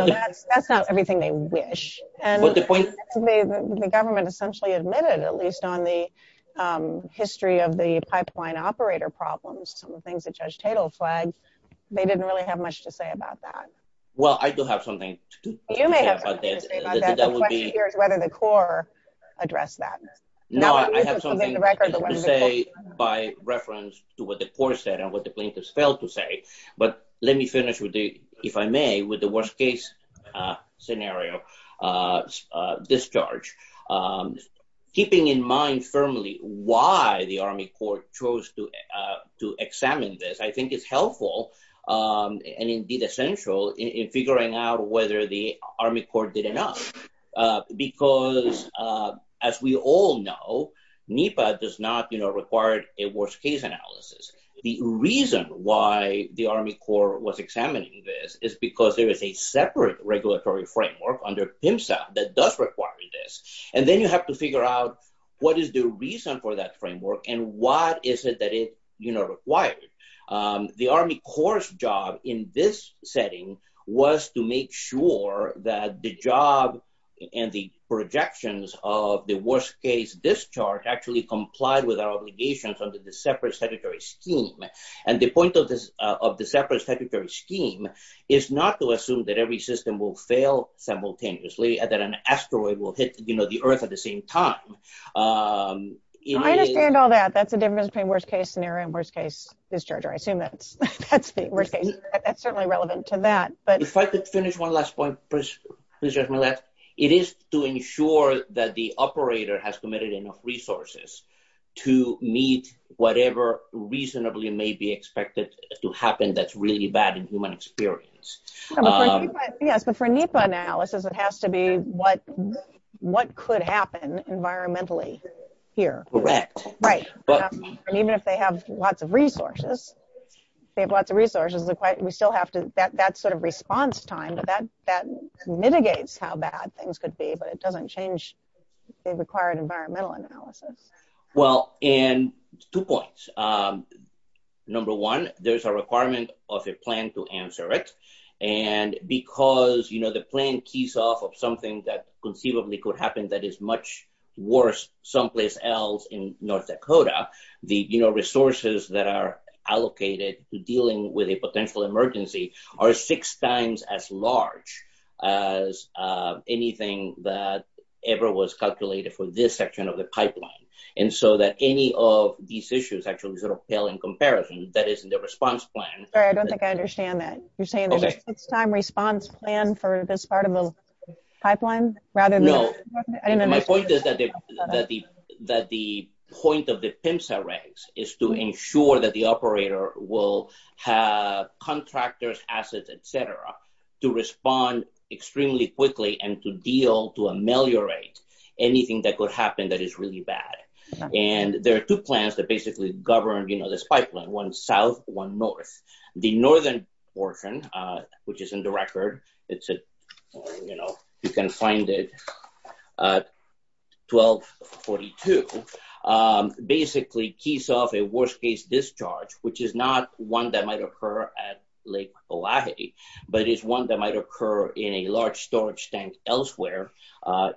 not everything they wish. The government essentially admitted, at least on the history of the pipeline operator problems, some of the things that Judge Tatel flagged, they didn't really have much to say about that. Well, I do have something to say. You may have something to say about that. The question here is whether the court addressed that. No, I have something to say by reference to what the court said and what the plaintiffs failed to say. But let me finish, if I may, with the worst case scenario discharge. Keeping in mind firmly why the Army Court chose to examine this, I think it's helpful and indeed essential in figuring out whether the Army Court did enough. Because as we all know, NEPA does not require a worst case analysis. The reason why the Army Court was examining this is because there is a separate regulatory framework under PIMSA that does require this. And then you have to figure out what is the reason for that framework and what is it that it requires. The Army Court's job in this setting was to make sure that the job and the projections of the worst case discharge actually complied with our obligations under the separate statutory scheme. And the point of the separate statutory scheme is not to assume that every system will fail simultaneously and that an asteroid will hit the earth at the same time. I understand all that. That's the difference between worst case scenario and worst case discharge. I assume that's the worst case scenario. That's certainly relevant to that. If I could finish one last point, please, Judge Millett. It is to ensure that the operator has committed enough resources to meet whatever reasonably may be expected to happen that's really bad in human experience. Yes, but for NEPA analysis, it has to be what could happen environmentally here. Correct. Right. And even if they have lots of resources, they have lots of resources, we still have to, that sort of response time, that mitigates how bad things could be, but it doesn't change the required environmental analysis. Well, and two points. Number one, there's a requirement of a plan to answer it. And because, the plan keys off of something that conceivably could happen that is much worse someplace else in North Dakota, the resources that are allocated to dealing with a potential emergency are six times as large as anything that ever was calculated for this section of the pipeline. And so that any of these issues actually sort of pale in comparison, that is in the response plan. Sorry, I don't think I understand that. You're asking for this part of the pipeline? No. My point is that the point of the PIMSA ranks is to ensure that the operator will have contractors, assets, et cetera, to respond extremely quickly and to deal, to ameliorate anything that could happen that is really bad. And there are two plans that basically govern this pipeline, one South, one North. The Northern portion, which is in the it's a, you know, you can find it 1242, basically keys off a worst case discharge, which is not one that might occur at Lake Olahe, but it's one that might occur in a large storage tank elsewhere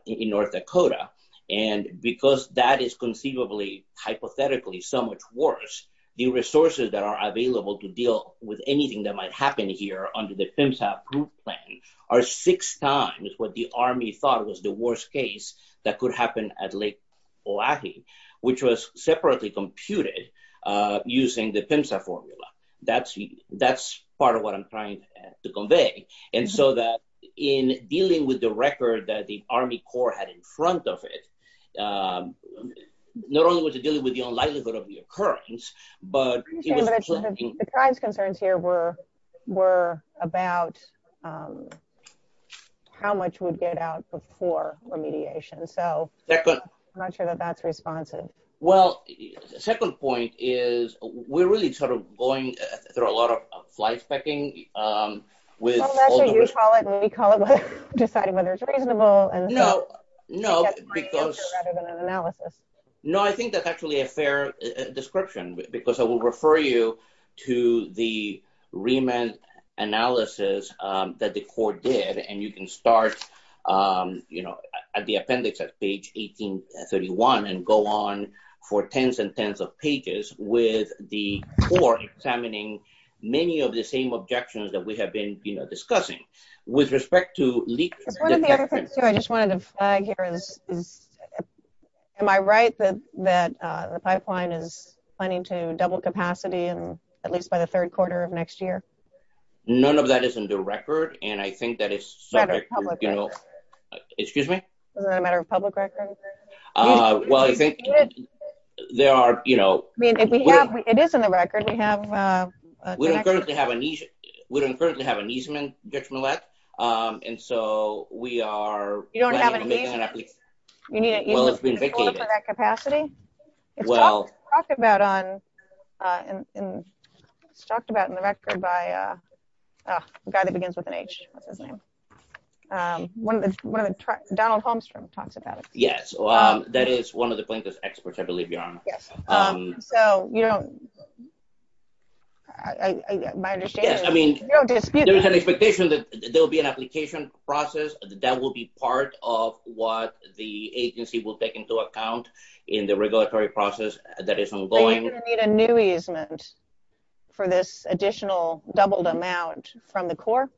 in North Dakota. And because that is conceivably, hypothetically so much worse, the resources that are available to deal with anything that might happen here under the PIMSA group plan are six times what the Army thought was the worst case that could happen at Lake Olahe, which was separately computed using the PIMSA formula. That's part of what I'm trying to convey. And so that in dealing with the record that the Army Corps had in front of it, not only was it dealing with the unlikelihood of the occurrence, but... You're saying that the tribe's concerns here were about how much we'd get out for poor remediation. So I'm not sure that that's responsive. Well, the second point is we're really sort of going through a lot of fly-specking with... Well, that's what you call it, and we call it deciding whether it's reasonable and... No, no, because... ...rather than an analysis. No, I think that's actually a fair description, because I will refer you to the remand analysis that the Corps did, and you can start at the appendix at page 1831 and go on for tens and tens of pages with the Corps examining many of the same objections that we have been discussing. With respect to leak... I just wanted to flag here is, am I right that the pipeline is planning to double capacity at least by the third quarter of next year? None of that is in the record, and I think that it's subject to... ...public record. Excuse me? Is it a matter of public record? Well, I think there are... It is in the record. We have... And so we are... You don't have a... ...making an application. You need a... Well, it's been vacated. ...capacity? Well... It's talked about on... It's talked about in the record by... God, it begins with an H. Donald Holmstrom talks about it. Yes, that is one of the plaintiff's experts, I believe, Your Honor. So, you know... My understanding is... Yes, I mean... ...you don't dispute... There's an expectation that there will be an application process. That will be part of what the agency will take into account in the regulatory process that is ongoing. Are you going to need a new easement for this additional doubled amount from the court?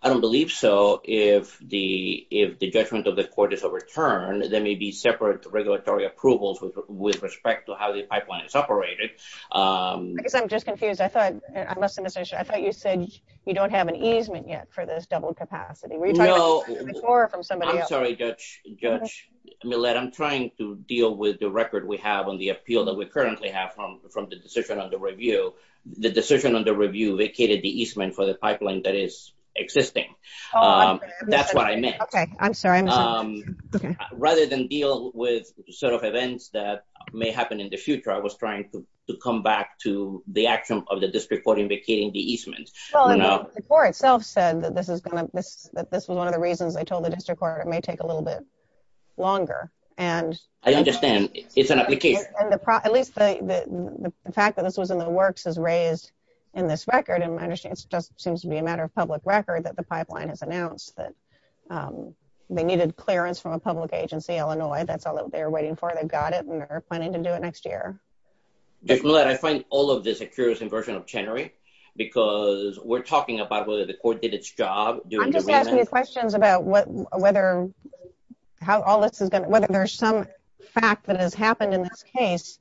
I don't believe so. If the judgment of the court is overturned, there may be separate regulatory approvals with respect to how the pipeline is operated. I guess I'm just confused. I thought... I must have missed it. I thought you said you don't have an easement yet for this doubled capacity. No... Were you trying to get a floor from somebody else? I'm sorry, Judge Millett. I'm trying to deal with the record we have on the appeal that we currently have from the decision on the review. The decision on the review vacated the easement for the pipeline that is existing. Oh, I see. That's what I meant. Okay. I'm sorry. Rather than deal with sort of events that may happen in the future, I was trying to come back to the action of the district court invocating the easement. Well, the district court itself said that this was one of the reasons they told the district court it may take a little bit longer. And... I understand. It's an application. And at least the fact that this was in the works is raised in this record. And it seems to be a matter of public record that the pipeline has announced that they needed clearance from a public agency, Illinois. That's all that they're waiting for. They got it and they're planning to do it next year. Well, I find all of this a curious inversion of Chenery, because we're talking about whether the court did its job. I'm just asking you questions about whether there's some fact that has happened in this case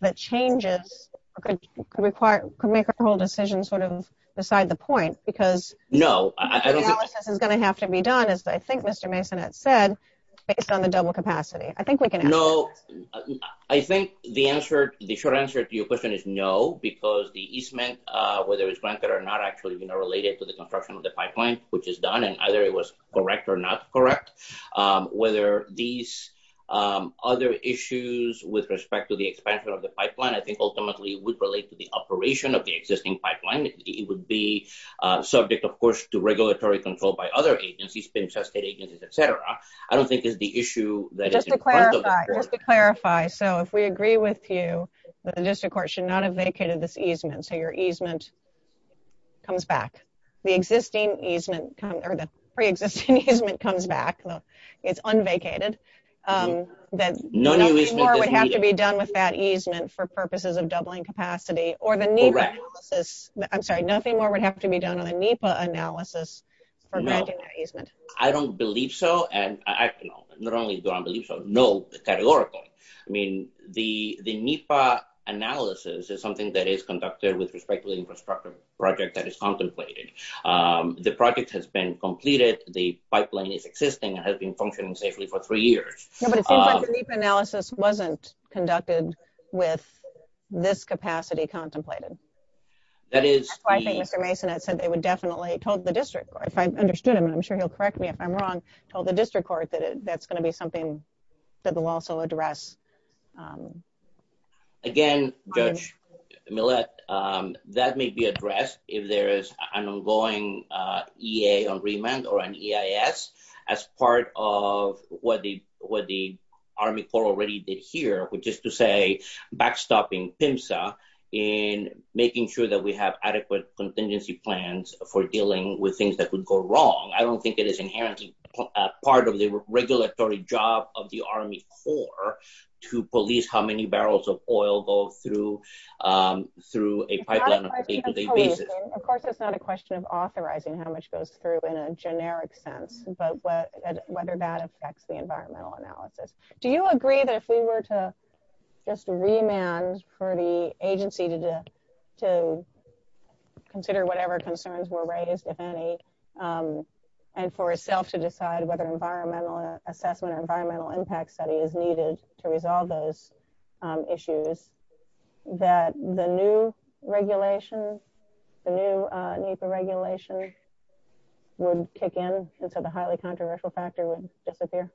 that changes, could make a whole decision sort of beside the point, because... No, I don't think... The analysis is going to have to be done, as I think Mr. Mason had said, based on the double capacity. I think we can... No, I think the short answer to your question is no, because the easement, whether it's granted or not, actually related to the construction of the pipeline, which is done, and either it was correct or not correct. Whether these other issues with respect to the expansion of the pipeline, I think ultimately would relate to the operation of the existing pipeline. It would be subject, of course, to regulatory control by other agencies, pension state agencies, et cetera. I don't think it's the issue that is... Let me clarify. So if we agree with you that the district court should not have vacated this easement, so your easement comes back, the existing easement, or the pre-existing easement comes back, it's unvacated, that nothing more would have to be done with that easement for purposes of doubling capacity, or the NEPA analysis... I'm sorry, nothing more would have to be done on a NEPA analysis for granting that easement. I don't believe so, and not only do I believe so, no categorical. I mean, the NEPA analysis is something that is conducted with respect to the infrastructure project that is contemplated. The project has been completed, the pipeline is existing, and has been functioning safely for three years. Yeah, but it seems like the NEPA analysis wasn't conducted with this capacity contemplated. That is... I think Mr. Mason had said they would definitely... He told the district court, if I understood him, and I'm sure he'll correct me if I'm wrong, told the district court that that's going to be something that will also address... Again, Judge Millett, that may be addressed if there is an ongoing EA on remand, or an EIS, as part of what the Army Corps already did here, which is to say, backstopping PIMSA in making sure that we have adequate contingency plans for dealing with things that could go wrong. I don't think it is inherently part of the regulatory job of the Army Corps to police how many barrels of oil go through a pipeline on a day-to-day basis. Of course, it's not a question of authorizing how much goes through in a generic sense, but whether that affects the environmental analysis. Do you agree that if we were to just remand for the agency to consider whatever concerns were raised, if any, and for itself to decide whether environmental assessment or environmental impact study is needed to resolve those issues, that the new regulations, the new NEPA regulations would kick in, and so the highly controversial factor would disappear?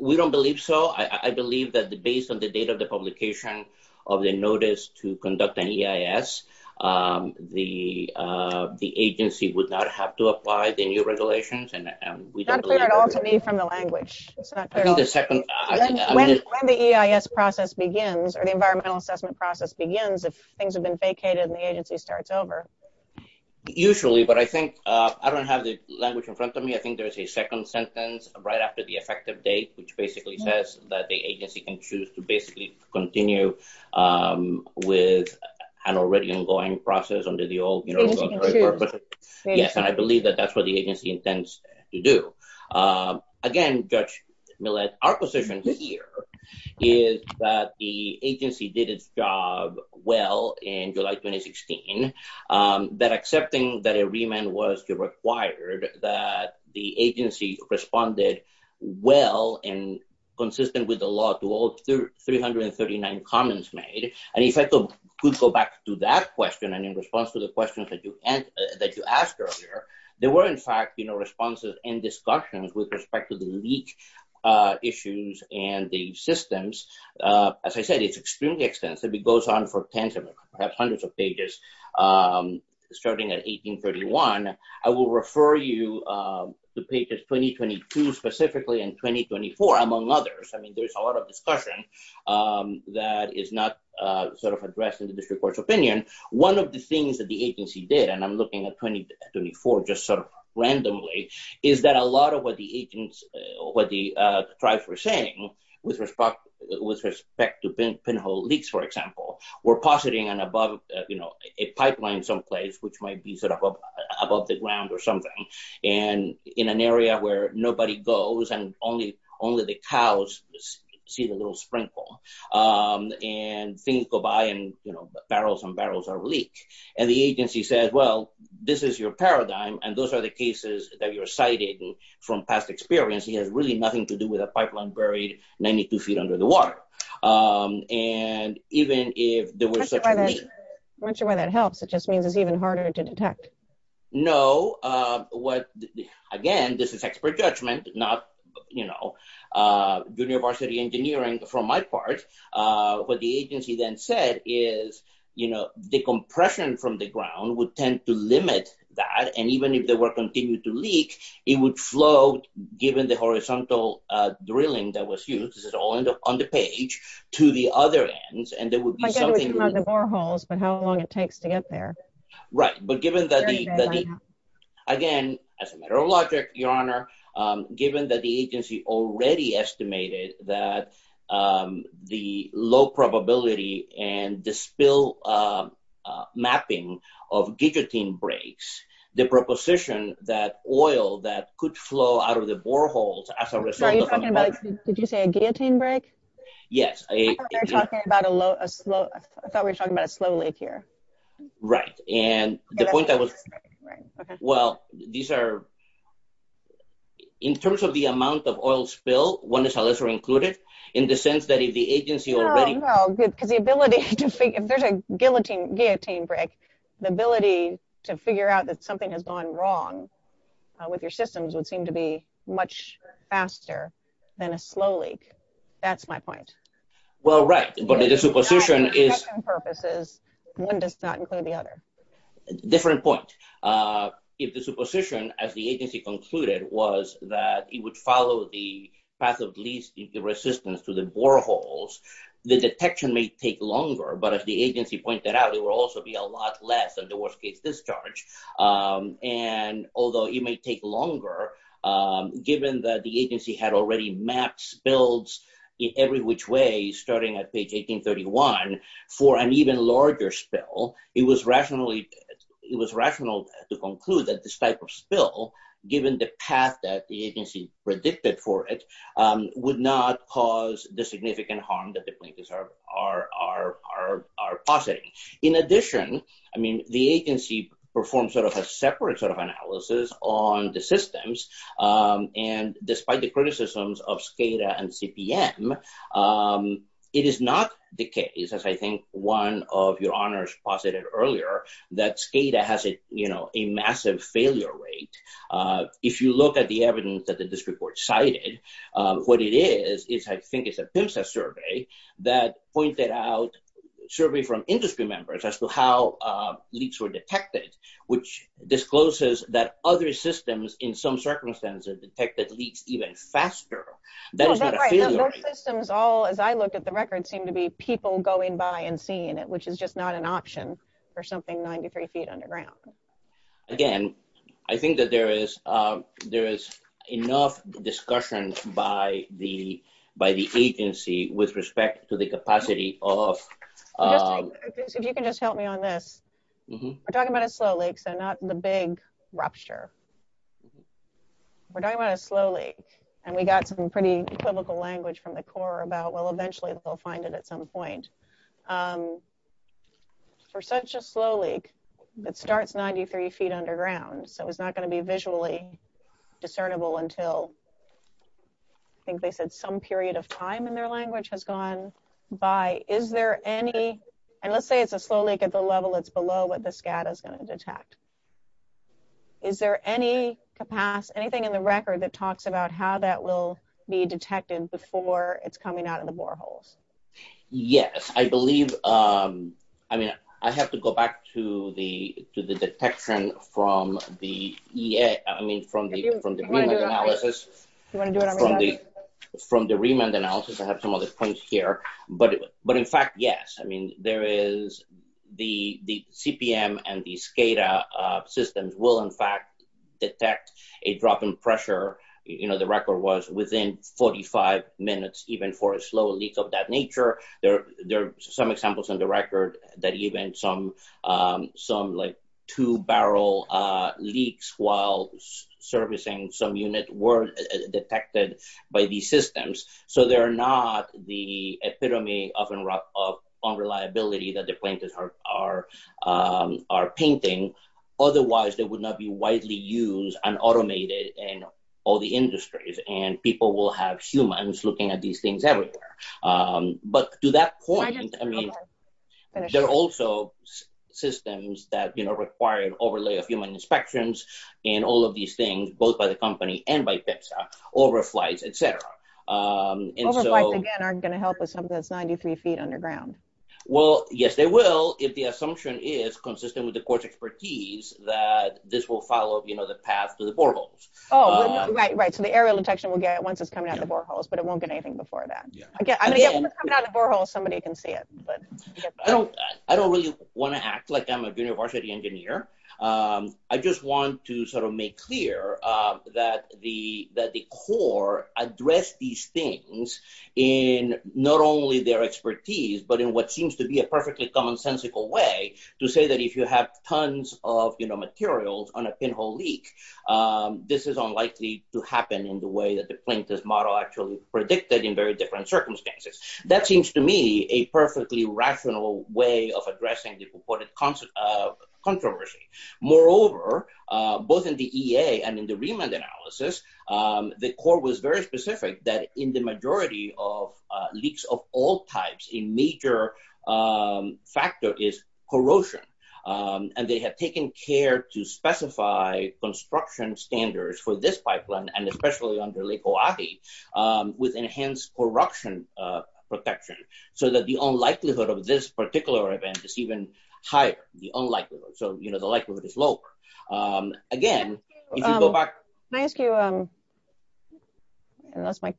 We don't believe so. I believe that based on the date of the publication of the notice to conduct an EIS, the agency would not have to apply the new regulations. Not clear at all to me from the language. When the EIS process begins, or the environmental assessment process begins, if things have been vacated and the agency starts over. Usually, but I don't have the language in front of me. I think there's a second sentence right after the effective date, which basically says that the agency can choose to basically continue with an already ongoing process under the old. Yes, and I believe that that's what the agency intends to do. Again, Judge Millett, our position here is that the agency did its job well in July 2016, that accepting that a remand was required, that the agency responded well and consistent with the law to all 339 comments made. And if I could go back to that question, and in response to the questions that you asked earlier, there were in fact responses and discussions with respect to the leak issues and the systems. As I said, it's extremely extensive. It goes on for tens of perhaps hundreds of pages, starting at 1831. I will refer you to pages 2022 specifically, and 2024 among others. I mean, there's a lot of discussion that is not sort of addressed in the district court's opinion. One of the things that the agency did, and I'm looking at 2024 just sort of randomly, is that a lot of what the tribes were saying with respect to pinhole leaks, for example, were positing a pipeline someplace, which might be sort of above the ground or in an area where nobody goes and only the cows see the little sprinkle. And things go by, and barrels and barrels are leaked. And the agency said, well, this is your paradigm, and those are the cases that you're citing from past experience. It has really nothing to do with a pipeline buried 92 feet under the water. And even if there were certain... I'm not sure why that helps. It just means it's even harder to detect. No. Again, this is expert judgment, not university engineering for my part. What the agency then said is, the compression from the ground would tend to limit that, and even if there were continued to leak, it would flow, given the horizontal drilling that was used, this is all on the page, to the other ends, and there would be something... I get that we can have the boreholes, but how long it takes to get there. Right. But given that... Again, as a matter of logic, Your Honor, given that the agency already estimated that the low probability and the spill mapping of guillotine breaks, the proposition that oil that could flow out of the boreholes as a result of... Are you talking about, did you say a guillotine break? Yes. I thought we were talking about a slow leak here. Right. And the point that was... Well, these are... In terms of the amount of oil spill, one is a lesser included, in the sense that if the agency already... No, no. Because the ability to think... If there's a guillotine break, the ability to figure out that something has gone wrong with your systems would seem to be much faster than a slow leak. That's my point. Well, right. But it is a position is... Purposes. One does not include the other. Different point. If the supposition, as the agency concluded, was that it would follow the path of least resistance to the boreholes, the detection may take longer. But as the agency pointed out, it will also be a lot less of the worst case discharge. And although it may take longer, given that the agency had already mapped spills in every which way, starting at page 1831, for an even larger spill, it was rational to conclude that this type of spill, given the path that the agency predicted for it, would not cause the significant harm that the plaintiffs are positing. In addition, the agency performed a separate analysis on the systems. And despite the criticisms of SCADA and CPM, it is not the case, as I think one of your honors posited earlier, that SCADA has a massive failure rate. If you look at the evidence that this report cited, what it is, is I think it's a PIMSA survey that pointed out... Survey from industry members as to how leaks were detected, which discloses that other systems in some circumstances detected leaks even faster. That is a failure rate. That's right. Those systems all, as I look at the record, seem to be people going by and seeing it, which is just not an option for something 93 feet underground. Again, I think that there is enough discussion by the agency with respect to the capacity of... If you can just help me on this. We're talking about a slow leak, so not the big rupture. We're talking about a slow leak, and we got some pretty critical language from the Corps about, well, eventually they'll find it at some point. For such a slow leak that starts 93 feet underground, so it's not going to be visually discernible until, I think they said some period of time in their language has gone by, is there any... And let's say it's a slow leak at the level that's below what the SCADA is going to detect. Is there any capacity, anything in the record that talks about how that will be detected before it's coming out of the boreholes? Yes, I believe... I mean, I have to go back to the detection from the... I mean, from the remand analysis. From the remand analysis, I have some other points here, but in fact, yes, I mean, there is the CPM and the SCADA systems will, in fact, detect a drop in pressure. You know, the record was within 45 minutes, even for a slow leak of that nature. There are some examples on the record that even some, like, two-barrel leaks while servicing some units weren't detected by these are painting. Otherwise, they would not be widely used and automated in all the industries, and people will have humans looking at these things everywhere. But to that point, I mean, there are also systems that require overlay of human inspections in all of these things, both by the company and by PIPSA, overflights, et cetera. Overflights, again, aren't going to detect something that's 93 feet underground. Well, yes, they will, if the assumption is consistent with the core's expertise that this will follow, you know, the path to the boreholes. Oh, right, right. So, the aerial detection will get it once it's coming out the boreholes, but it won't get anything before that. Again, I mean, when it's coming out the boreholes, somebody can see it, but... I don't really want to act like I'm a university engineer. I just want to sort of make clear that the core addressed these things in not only their expertise, but in what seems to be a perfectly commonsensical way to say that if you have tons of, you know, materials on a pinhole leak, this is unlikely to happen in the way that the plaintiff's model actually predicted in very different circumstances. That seems to me a perfectly rational way of addressing the reported controversy. Moreover, both in the EA and in the Riemann analysis, the core was very specific that in the majority of leaks of all types, a major factor is corrosion. And they have taken care to specify construction standards for this pipeline, and especially under Lake O'Avie, with enhanced corruption protection, so that the unlikelihood of this particular event is even higher, the unlikelihood. So, you know, the likelihood is low. Again... Can I ask you, unless my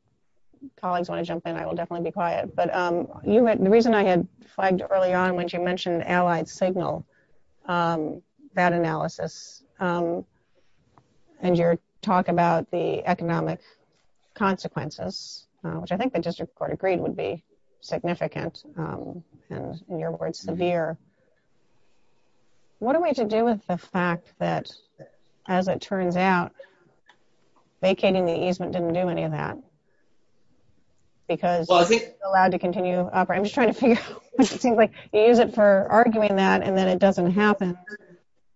colleagues want to jump in, I will definitely be quiet. But the reason I had flagged early on when you mentioned allied signal, that analysis, and your talk about the economic consequences, which I think the district court agreed would be what are we to do with the fact that, as it turns out, vacating the easement didn't do any of that? Because it's allowed to continue to operate. I'm just trying to figure out, it seems like you use it for arguing that, and then it doesn't happen.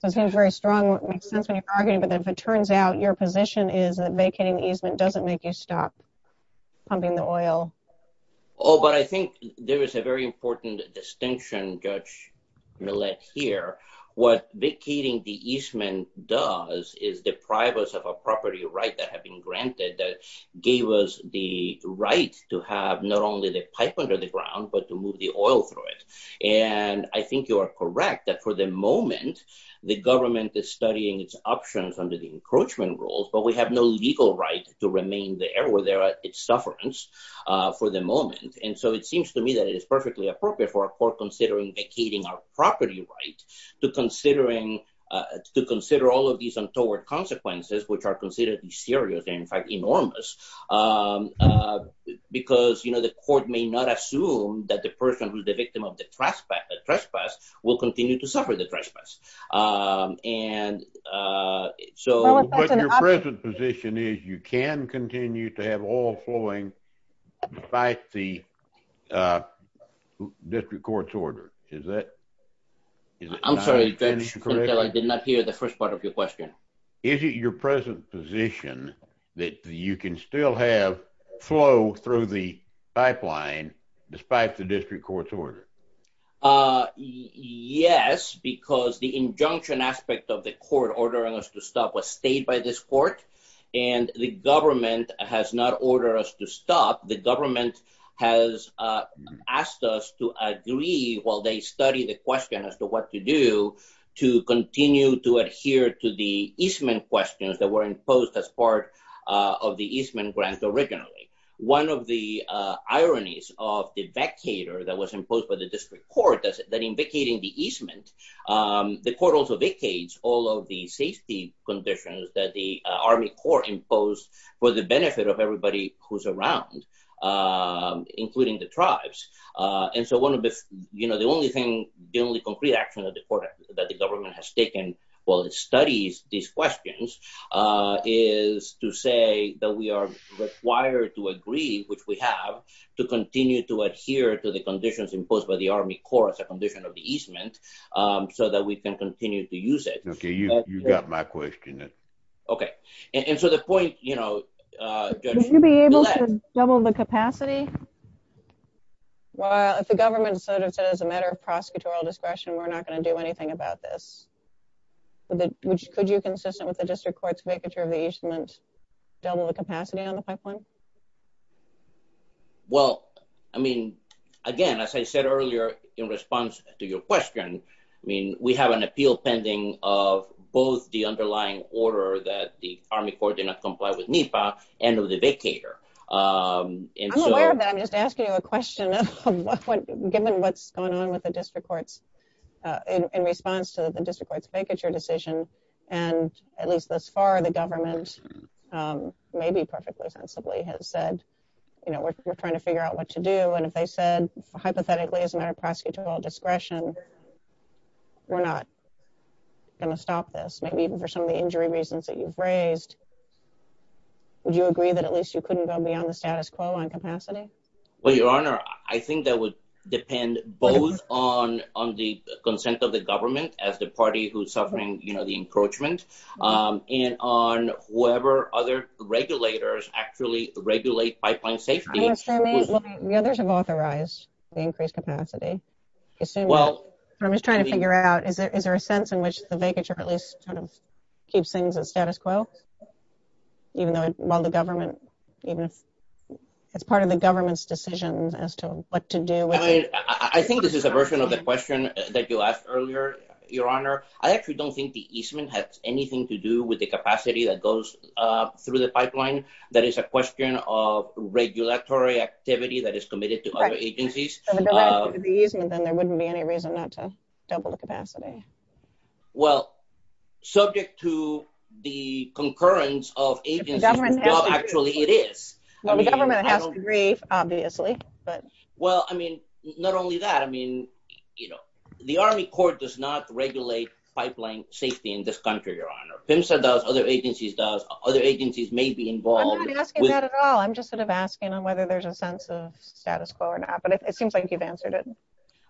It seems very strong, makes sense when you're arguing, but as it turns out, your position is that vacating the easement doesn't make you stop pumping the oil. Oh, but I think there what vacating the easement does is deprive us of a property right that had been granted that gave us the right to have not only the pipe under the ground, but to move the oil through it. And I think you are correct that for the moment, the government is studying its options under the encroachment rules, but we have no legal right to remain there where there are its sufferance for the moment. And so it seems to me that it is perfectly appropriate for our court considering vacating our property rights to consider all of these untoward consequences, which are considered serious and, in fact, enormous, because the court may not assume that the person who's the victim of the trespass will continue to suffer the trespass. What your present position is, you can continue to have oil flowing despite the district court's order, is that? I'm sorry, I did not hear the first part of your question. Is it your present position that you can still have flow through the pipeline despite the district court's order? Yes, because the injunction aspect of the court ordering us to stop was by this court, and the government has not ordered us to stop. The government has asked us to agree while they study the question as to what to do to continue to adhere to the easement questions that were imposed as part of the easement grant originally. One of the ironies of the vacator that was imposed by the district court that's been indicating the easement, the court also vacates all of the safety conditions that the Army Corps imposed for the benefit of everybody who's around, including the tribes. The only concrete action that the government has taken while it studies these questions is to say that we are required to agree, which we have, to continue to adhere to the conditions imposed by the Army Corps as a condition of the easement so that we can continue to use it. Okay, you've got my question. Okay, and to the point, you know, can you be able to double the capacity? Well, if the government sort of said as a matter of prosecutorial discretion, we're not going to do anything about this. Could you, consistent with the district court's vacature of the easement, double the capacity on the pipeline? Well, I mean, again, as I said earlier in response to your question, I mean, we have an appeal pending of both the underlying order that the Army Corps did not comply with NEPA and of the vacator. I'm aware of that, I'm just asking you a question, given what's going on with the district courts in response to the district court's vacature decision, and at least thus far the government maybe perfectly sensibly has said, you know, we're trying to figure out what to do, and if they said hypothetically, as a matter of prosecutorial discretion, we're not going to stop this, maybe even for some of the injury reasons that you've raised. Would you agree that at least you couldn't go beyond the status quo on capacity? Well, Your Honor, I think that would depend both on the consent of the government as the party who's suffering, you know, the encroachment, and on whether other regulators actually regulate pipeline safety. The others have authorized the increased capacity. I'm just trying to figure out, is there a sense in which the vacature at least sort of keeps things at status quo, even though it's part of the government's decision as to what to do? I mean, I think this is a version of the question that you asked earlier, Your Honor. I actually don't think the easement has anything to do with the capacity that goes through the pipeline. That is a question of regulatory activity that is committed to other agencies. Correct. So, if there wasn't going to be easement, then there wouldn't be any reason not to double the capacity. Well, subject to the concurrence of agencies, well, actually, it is. The government has to agree, obviously, but... Well, I mean, not only that, I mean, you know, the Army Corps does not regulate pipeline safety in this country, Your Honor. PHMSA does, other agencies do. Other agencies may be involved. I'm not asking that at all. I'm just sort of asking on whether there's a sense of status quo or not, but it seems like you've answered it.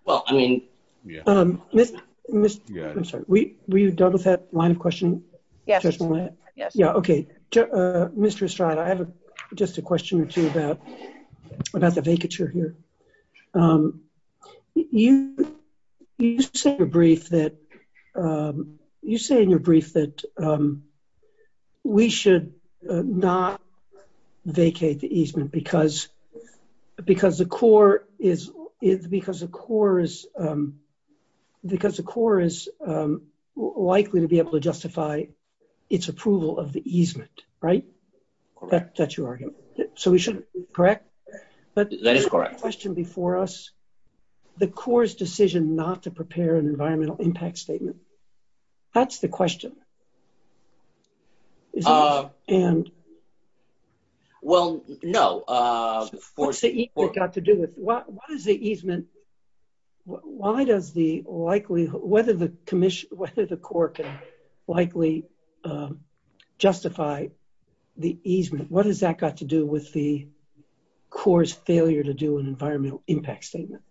Well, I mean, yeah. I'm sorry, were you done with that line of questioning? Yes. Yeah, okay. Mr. Estrada, I have just a question or two about the vacature here. You say in your brief that we should not vacate the easement because the Corps is likely to be able to justify its approval of the easement, right? That's your argument. So, we shouldn't, correct? That is correct. Question before us, the Corps' decision not to prepare an environmental impact statement. That's the question. Well, no. What's the easement got to do with? What is the easement? Why does the likelihood, whether the Corps can likely justify the easement? What has that got to do with the environmental impact statement?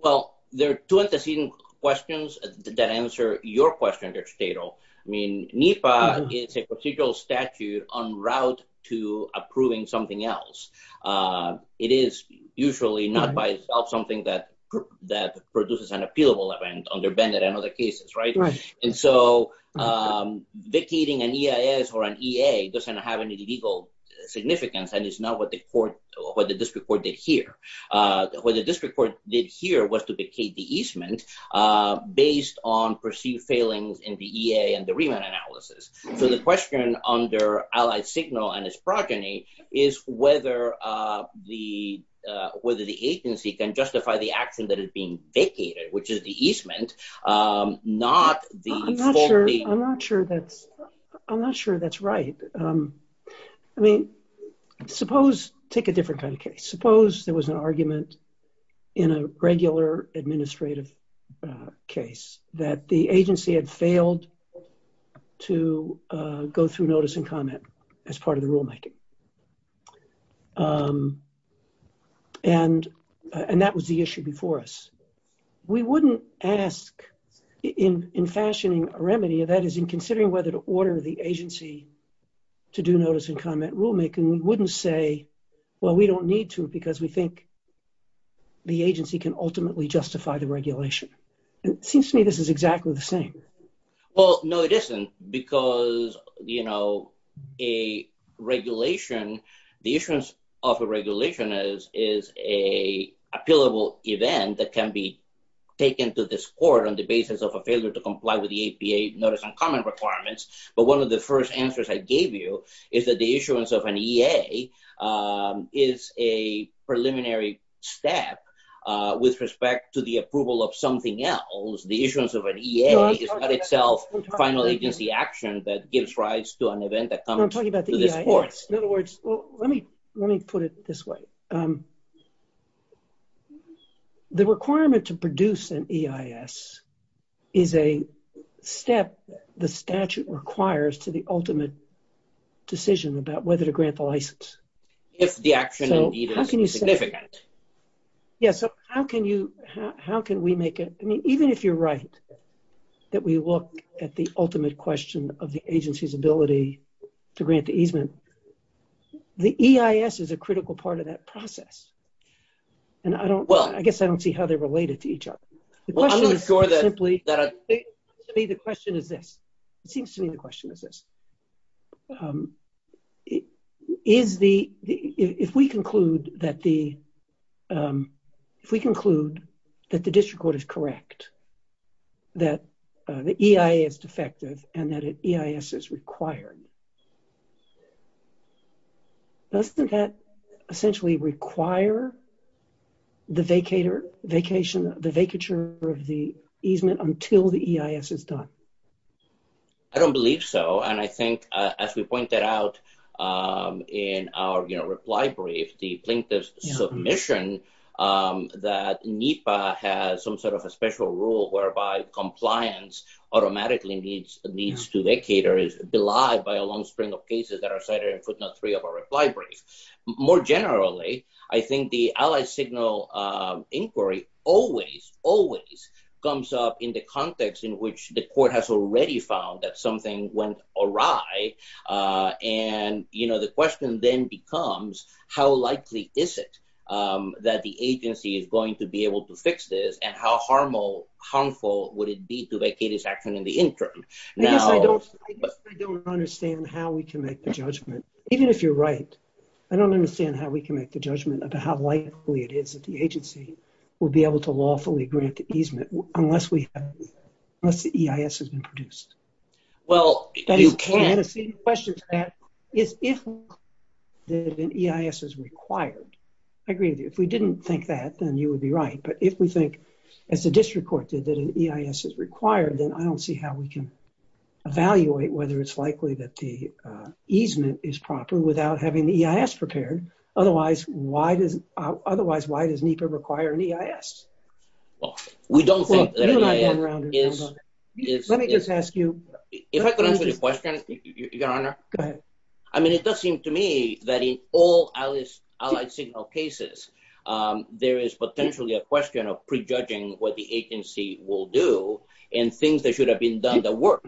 Well, there are two antecedent questions that answer your question, Judge Tato. I mean, NEPA is a procedural statute en route to approving something else. It is usually not by itself something that produces an appealable event under BENDA and other cases, right? And so, vacating an EIS or an EA doesn't have any legal significance and it's not what the court, what the district court did here. What the district court did here was to vacate the easement based on perceived failings in the EA and the remand analysis. So, the question under Allied Signal and its progeny is whether the, whether the agency can justify the action that is being vacated, which is the easement, not the... I'm not sure that, I'm not sure that's right. I mean, suppose, take a different kind of case. Suppose there was an argument in a regular administrative case that the agency had failed to go through notice and comment as part of the rulemaking. And that was the issue before us. We wouldn't ask, in fashioning a remedy, that is, in considering whether to order the agency to do notice and comment rulemaking, we wouldn't say, well, we don't need to because we think the agency can ultimately justify the regulation. It seems to me this is exactly the same. Well, no, it isn't because, you know, a regulation, a rulemaking regulation, the issuance of a regulation is, is a appealable event that can be taken to this court on the basis of a failure to comply with the APA notice and comment requirements. But one of the first answers I gave you is that the issuance of an EA is a preliminary step with respect to the approval of something else. The issuance of an EA is not itself finally just the let me, let me put it this way. The requirement to produce an EIS is a step the statute requires to the ultimate decision about whether to grant the license. So how can you say that? Yeah, so how can you, how can we make it, I mean, even if you're right, that we look at the ultimate question of the agency's ability to grant the easement, the EIS is a critical part of that process. And I don't, well, I guess I don't see how they're related to each other. The question is simply, to me the question is this. It seems to me the question is this. Is the, if we conclude that the, if we conclude that the district court is correct, that the EIA is defective and that an EIS is required, doesn't that essentially require the vacator, vacation, the vacature of the easement until the EIS is done? I don't believe so. And I think as we pointed out in our, you know, reply brief, the plaintiff's submission, that NEPA has some sort of a special rule whereby compliance automatically needs to vacate or is denied by a long string of cases that are cited in Kutna III of our reply brief. More generally, I think the Allied Signal inquiry always, always comes up in the context in which the court has already found that something went awry. And, you know, the question then becomes how likely is it that the agency is going to be able to fix this and how harmful would it be to vacate this action in the interim? Now, I don't, I don't understand how we can make the judgment. Even if you're right, I don't understand how we can make the judgment about how likely it is that the agency will be able to lawfully grant the easement unless we have, unless the EIS has been produced. Well, you can. The question to that is if an EIS is required. I agree with you. If we didn't think that, then you would be right. But if we think, as the district court did, that an EIS is required, then I don't see how we can evaluate whether it's likely that the easement is proper without having the EIS prepared. Otherwise, why does, otherwise, why does NEPA require an EIS? Well, we don't think that it is. Let me just ask you. If I could answer the question, Your Honor. Go ahead. I mean, it does seem to me that in all Allied Signal cases, there is potentially a question of prejudging what the agency will do and things that should have been done that work.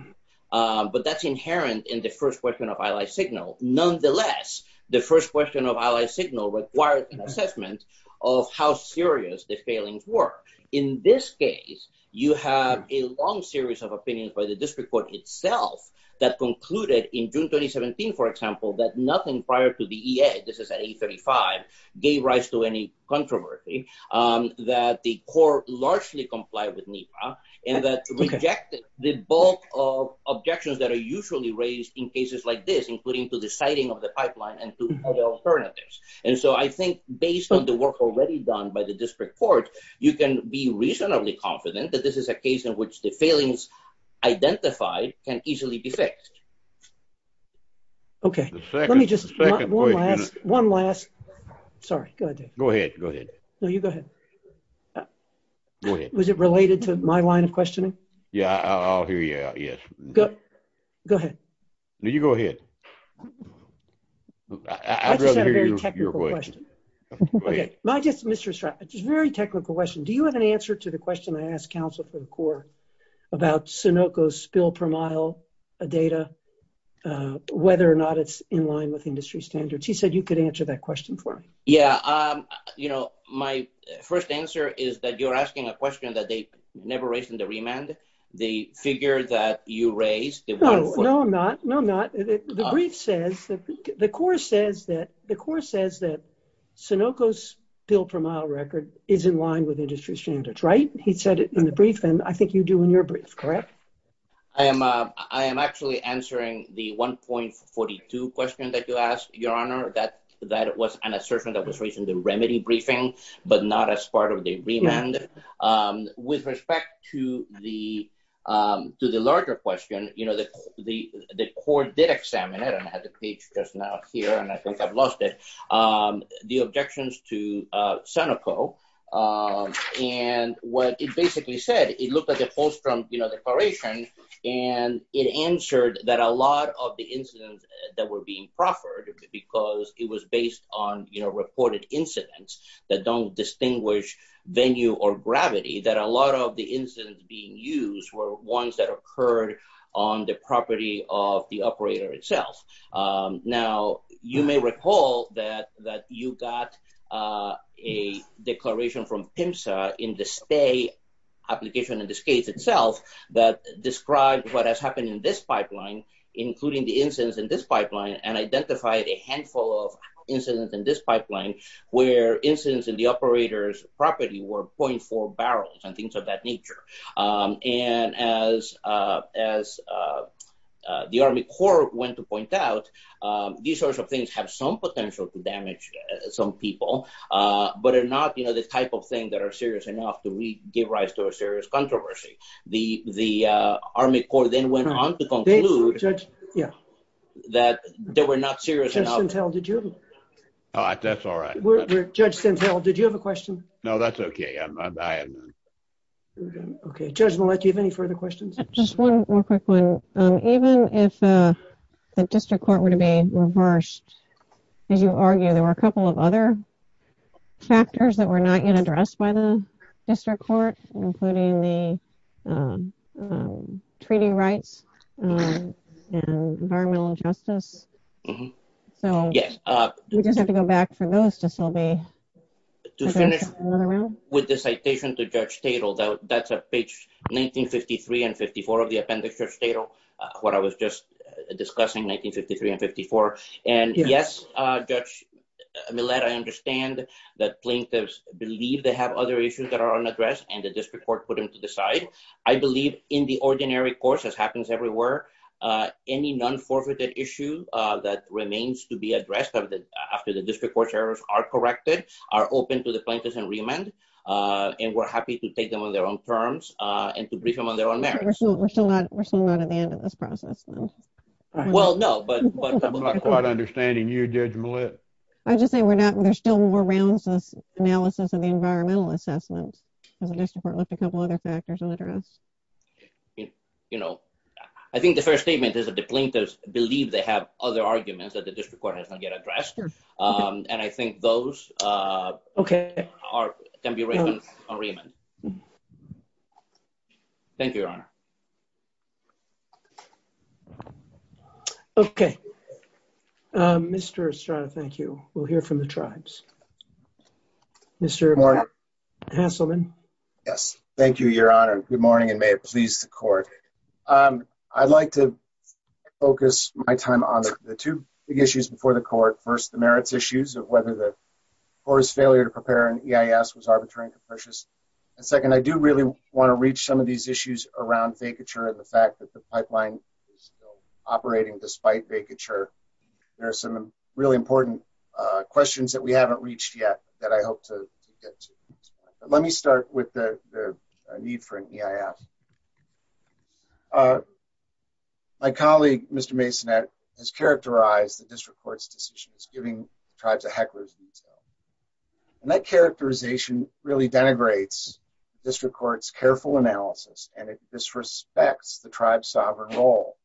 But that's inherent in the first question of Allied Signal. Nonetheless, the first question requires an assessment of how serious the failings were. In this case, you have a long series of opinions by the district court itself that concluded in June 2017, for example, that nothing prior to the EA, this is at 835, gave rise to any controversy, that the court largely complied with NEPA, and that rejected the bulk of objections that are usually raised in cases like this, including to the siting of the pipeline and to other alternatives. And so I think based on the work already done by the district court, you can be reasonably confident that this is a case in which the failings identified can easily be fixed. Okay. Let me just, one last, one last, sorry, go ahead. Go ahead, go ahead. No, you go ahead. Was it related to my line of questioning? Yeah, I'll hear you out, yes. Go ahead. No, you go ahead. I'd rather hear your voice. I have a very technical question. Go ahead. Not just Mr. Stratton, a very technical question. Do you have an answer to the question I asked counsel for the court about Sunoco's spill per mile data, whether or not it's in line with industry standards? He said you could answer that question for me. Yeah, you know, my first answer is that you're asking a question that they never raised in the remand, the figure that you raised. No, I'm not. No, I'm not. The brief says that, the court says that, the court says that Sunoco's spill per mile record is in line with industry standards, right? He said it in the brief, and I think you do in your brief, correct? I am, I am actually answering the 1.42 question that you asked, Your Honor. That, that was an assertion that was raised in the remedy briefing, but not as part of the remand. With respect to the, to the larger question, you know, the, the, the court did examine it, and I have the brief just now here, and I think I've lost it. The objections to Sunoco, and what it basically said, it looked at the post from, you know, the corporation, and it answered that a lot of the incidents that were being proffered, because it was based on, you know, reported incidents that don't distinguish venue or gravity, that a lot of the incidents being used were ones that occurred on the property of the operator itself. Now, you may recall that, that you got a declaration from PIMSA in the stay application, in this case itself, that described what has happened in this pipeline, including the incidents in this pipeline, and identified a handful of incidents in this pipeline, where the operators' property were 0.4 barrels, and things of that nature. And as, as the Army Corps went to point out, these sorts of things have some potential to damage some people, but are not, you know, the type of thing that are serious enough to give rise to a serious controversy. The, the Army Corps then went on to conclude that they were not serious enough. Judge Stenthill, did you have a question? No, that's okay. I'm, I'm, I am. Okay. Judge, we'll let you have any further questions. Just one more quick one. Even if the district court were to be reversed, as you argue, there were a couple of other factors that were not yet addressed by the district court, including the treaty rights, and environmental justice. Yes. So, we just have to go back for notes, if we'll be. To finish with the citation to Judge Tatel, that's at page 1953 and 54 of the appendix, Judge Tatel, what I was just discussing, 1953 and 54. And yes, Judge Millett, I understand that plaintiffs believe they have other issues that are unaddressed, and the district court put them to the side. I believe in the ordinary course, as happens everywhere, any non-forfeited issue that remains to be addressed after the district court errors are corrected, are open to the plaintiffs and remand, and we're happy to take them on their own terms, and to brief them on their own merits. We're still not, we're still not at the end of this process. Well, no, but. I'm not quite understanding you, Judge Millett. I was just saying, we're not, there's still more rounds of analysis of the environmental assessment, and the district court left a couple other factors unaddressed. You know, I think the first statement is that the plaintiffs believe they have other arguments that the district court has not yet addressed, and I think those are, can be raised on remand. Thank you, Your Honor. Okay, Mr. Estrada, thank you. We'll hear from the tribes. Mr. Hanselman. Yes, thank you, Your Honor. Good morning, and may it please the court. I'd like to focus my time on the two big issues before the court. First, the merits issues of whether the court's failure to prepare an EIS was arbitrary and capricious. And second, I do really want to reach some of these issues around vacature, and the fact that the pipeline is still operating despite vacature. There are some really important questions that we haven't reached yet, that I hope to get to. But let me start with the need for an EIS. My colleague, Mr. Masonette, has characterized the district court's decision as giving tribes a heckler's detail. And that characterization really denigrates district court's careful analysis, and it disrespects the tribe's sovereign role.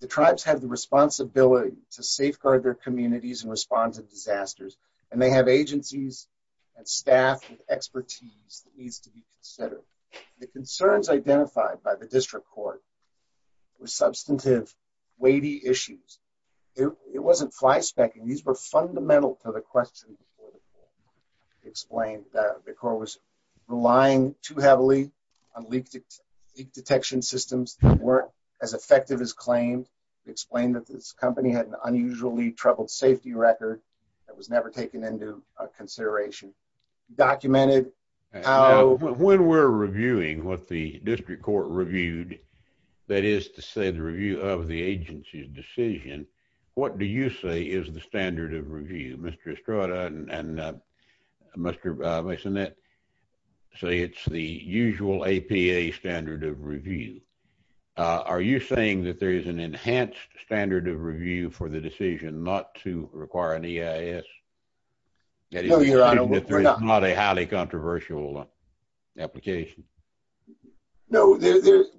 The tribes have the responsibility to safeguard their communities in response to disasters, and they have agencies and staff with expertise that needs to be considered. The concerns identified by the district court were substantive, weighty issues. It wasn't flyspecking. Explained that the court was relying too heavily on leak detection systems that weren't as effective as claimed. Explained that this company had an unusually troubled safety record that was never taken into consideration. Documented how- When we're reviewing what the district court reviewed, that is to say the review of the agency's decision, what do you say is the standard of review? Mr. Estrada and Mr. Masonette say it's the usual APA standard of review. Are you saying that there is an enhanced standard of review for the decision not to require an EIS? No, Your Honor, we're not- Not a highly controversial application? No,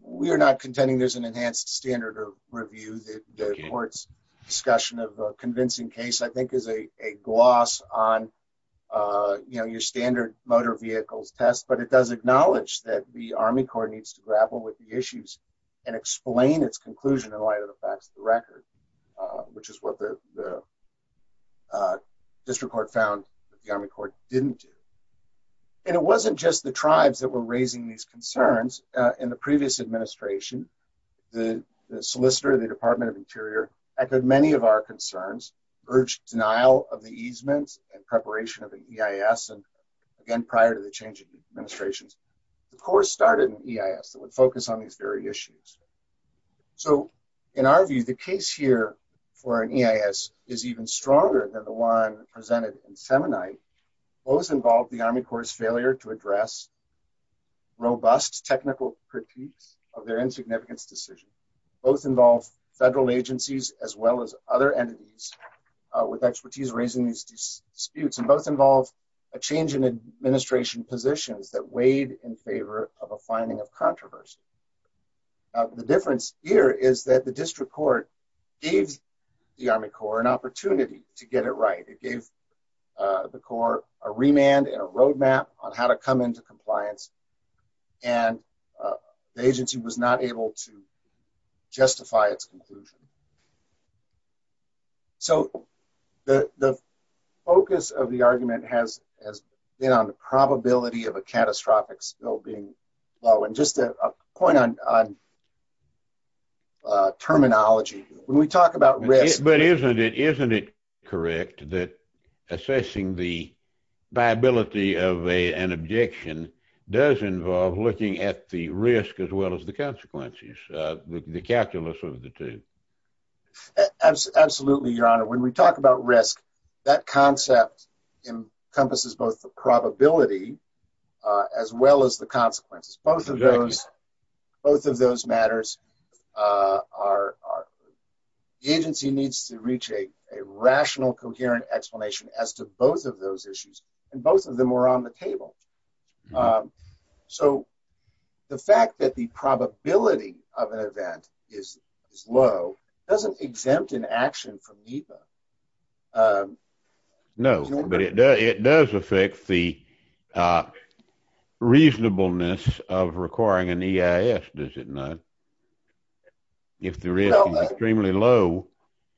we are not contending there's an enhanced standard of review. The court's discussion of the convincing case, I think, is a gloss on your standard motor vehicle test, but it does acknowledge that the Army Corps needs to grapple with the issues and explain its conclusion in light of the facts of the record, which is what the district court found that the Army Corps didn't do. It wasn't just the tribes that were raising these concerns. In the previous administration, the solicitor of the Department of Interior echoed many of our concerns, urged denial of the easement and preparation of the EIS, and again, prior to the change of administration, the Corps started an EIS that would focus on these very issues. So in our view, the case here for an EIS is even stronger than the one presented in the previous case, because it's a technical critique of their insignificance decision. Both involve federal agencies as well as other entities with expertise raising these disputes, and both involve a change in administration positions that weighed in favor of a finding of controversy. The difference here is that the district court gave the Army Corps an opportunity to get it right. It gave the Corps a remand and a roadmap on how to come into compliance, and the agency was not able to justify its conclusion. So the focus of the argument has been on the probability of a catastrophic spill being low, and just a point on terminology. When we talk about risk... But isn't it correct that assessing the viability of an objection does involve looking at the risk as well as the consequences, the calculus of the two? Absolutely, Your Honor. When we talk about risk, that concept encompasses both the probability as well as the consequences. Both of those matters are... The agency needs to reach a rational, coherent explanation as to both of those issues, and both of them are on the table. So the fact that the probability of an event is low doesn't exempt an action from NEPA. No, but it does affect the reasonableness of requiring an EIS, does it not? If the risk is extremely low,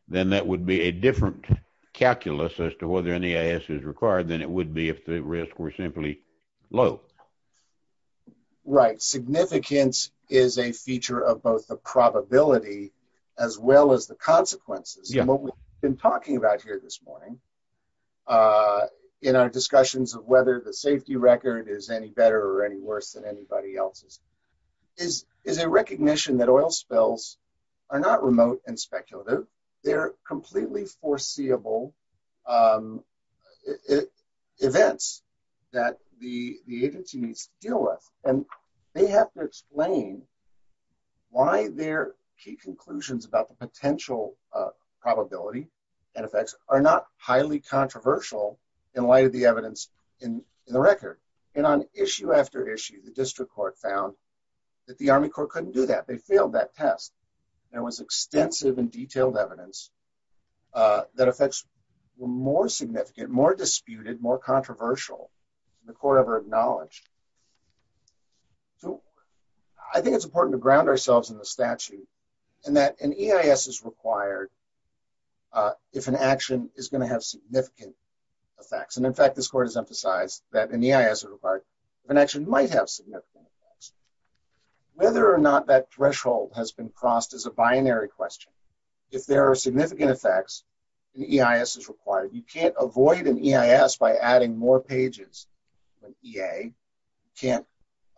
then that would be a different calculus as to whether an EIS is required than it would be if the risks were simply low. Right. Significance is a feature of both the probability as well as the consequences. What we've been talking about here this morning in our discussions of whether the safety record is any better or any worse than anybody else's is a recognition that oil spills are not remote and speculative. They're completely foreseeable events that the agency needs to deal with, and they have to explain why their key conclusions about the potential probability and effects are not highly controversial in light of the evidence in the record. And on issue after issue, the district court found that the Army Corps couldn't do that. They failed that test. There was extensive and detailed evidence that effects were more significant, more disputed, more controversial than the Corps ever acknowledged. I think it's important to ground ourselves in the statute and that an EIS is required if an action is going to have significant effects. And in fact, this court has emphasized that an EIS is required if an action might have significant effects. Whether or not that threshold has been crossed is a binary question. If there are significant effects, an EIS is required. You can't avoid an EIS by adding more pages to an EA. You can't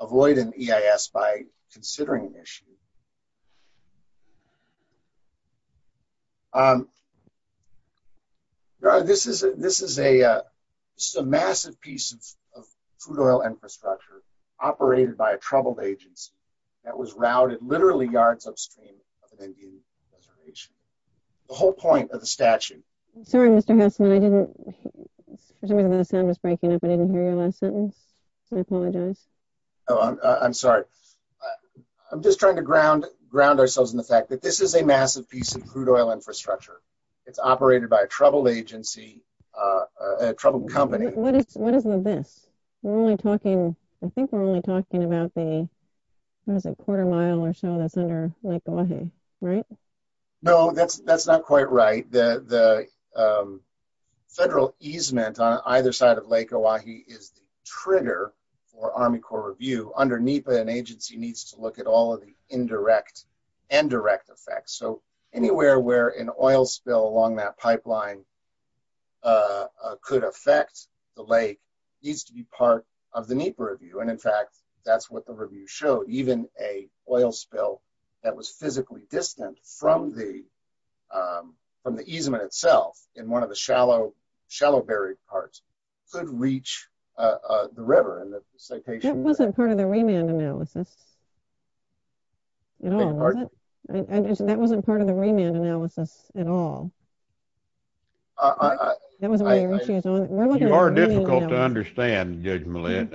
avoid an EIS by considering an issue. This is a massive piece of crude oil infrastructure operated by a troubled agency that was routed literally yards upstream of an Indian reservation. The whole point of the statute... I'm sorry. I'm just trying to ground ourselves in the fact that this is a massive piece of crude oil infrastructure. It's operated by a troubled agency, a troubled company. What is with this? I think we're only talking about the quarter mile or so that's under Lake Oahe, right? No, that's not quite right. The federal easement on either side of Lake Oahe is the trigger for Army Corps Review. Under NEPA, an agency needs to look at all of the indirect and direct effects. So anywhere where an oil spill along that pipeline could affect the lake needs to be part of the NEPA review. And in fact, that's what the review showed. Even an oil spill that was physically distant from the easement itself in one of the shallow buried parts could reach the river. That wasn't part of the remand analysis at all, was it? That wasn't part of the remand analysis at all. You are difficult to understand, Judge Millett.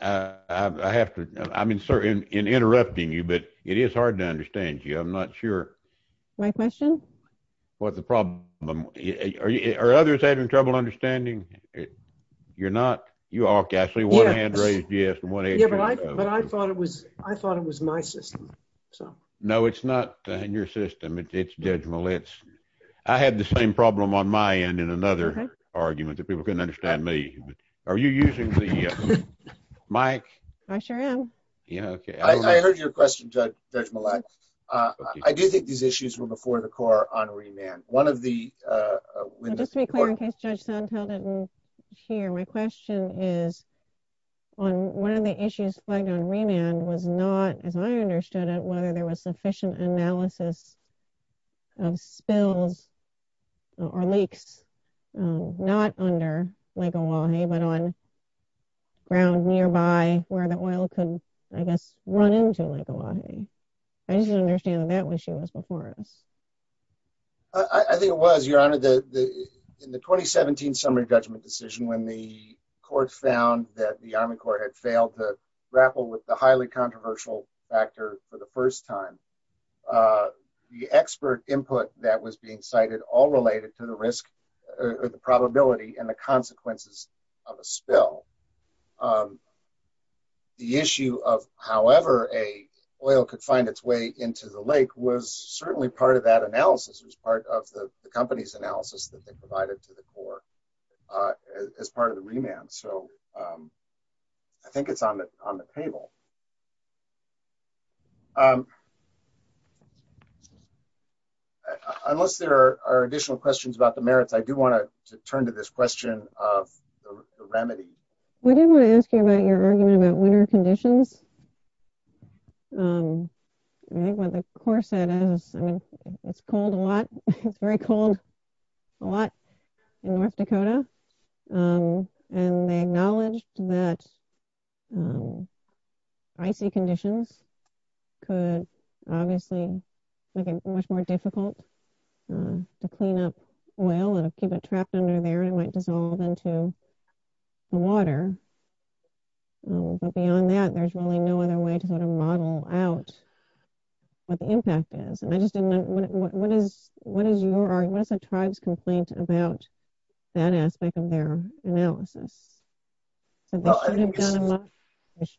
I have to, I mean, sir, in interrupting you, but it is hard to understand you. I'm not sure. My question? What's the problem? Are others having trouble understanding? You're not. You are, Ashley. One hand raised, yes. But I thought it was my system, so. No, it's not in your system. It's Judge Millett's. I had the same problem on my end in another argument that people couldn't understand me. Are you using the mic? I sure am. Yeah, okay. I heard your question, Judge Millett. I do think these issues were before the Corps on remand. One of the, Linda. Just to be clear, in case Judge Sontag didn't hear, my question is on one of the issues flagged on remand was not, as I understood it, whether there was sufficient analysis of spill or leaks, not under Lake Oahe, but on ground nearby where the oil could, I guess, run into Lake Oahe. I didn't understand that when she was before us. I think it was, Your Honor, in the 2017 summary judgment decision, when the courts found that the Army Corps had failed to grapple with the highly controversial factor for the first time, the expert input that was being cited all related to the risk or the probability and the consequences of a spill. The issue of however a oil could find its way into the lake was certainly part of that analysis. It was part of the company's analysis that they provided to the Corps as part of the remand. So, I think it's on the table. Unless there are additional questions about the merits, I do want to turn to this question of the remedy. We did want to ask you about your argument about winter conditions. Of course, it is. It's cold a lot. It's very cold a lot in North Dakota. And they acknowledged that icy conditions could obviously make it much more difficult to clean up oil and keep it trapped under there. It might dissolve into the water. But beyond that, there's really no other way to model out what the impact is. What is your argument or tribe's complaint about that aspect of their analysis?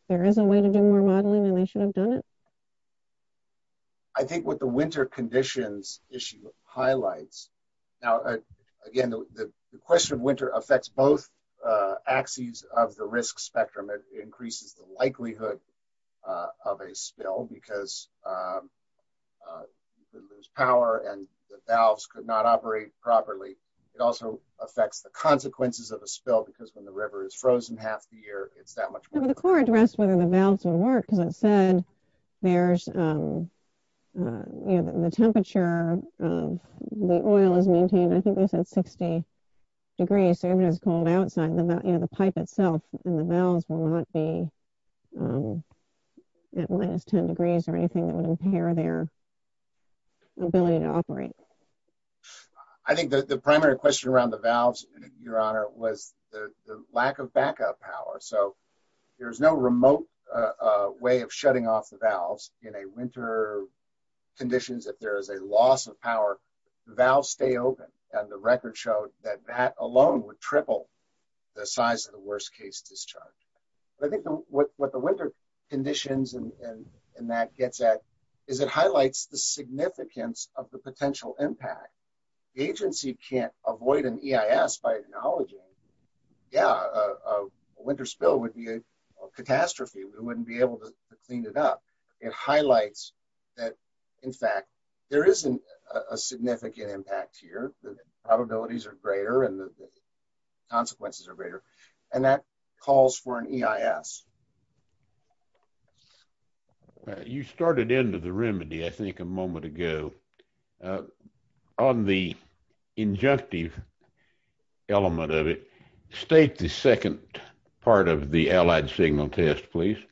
There is a way to do remodeling and they should have done it? I think what the winter conditions issue highlights. Now, again, the question of winter affects both axes of the risk spectrum. It increases the likelihood of a spill because you could lose power and the valves could not operate properly. It also affects the consequences of a spill because when the river is frozen half the year, it's that much colder. The Corps addressed whether the valves will work. And it said there's the temperature. The oil is maintained, I think it says 60 degrees, so even if it's cold outside, the pipe itself and the valves will not be at minus 10 degrees or anything that will impair their ability to operate. I think that the primary question around the valves, Your Honor, was the lack of backup power. So there's no remote way of shutting off the valves in winter conditions. If there is a loss of power, the valves stay open. And the record showed that that alone would triple the size of the worst case discharge. But I think what the winter conditions and that gets at is it highlights the significance of the potential impact. The agency can't avoid an EIS by acknowledging, yeah, a winter spill would be a catastrophe. We wouldn't be able to clean it up. It highlights that, in fact, there is a significant impact here. The probabilities are greater and the consequences are greater. And that calls for an EIS. MR. WILKERSON You started into the remedy, I think, a moment ago. On the injunctive element of it, state the second part of the Allied Signal Test, please. MR. WILKERSON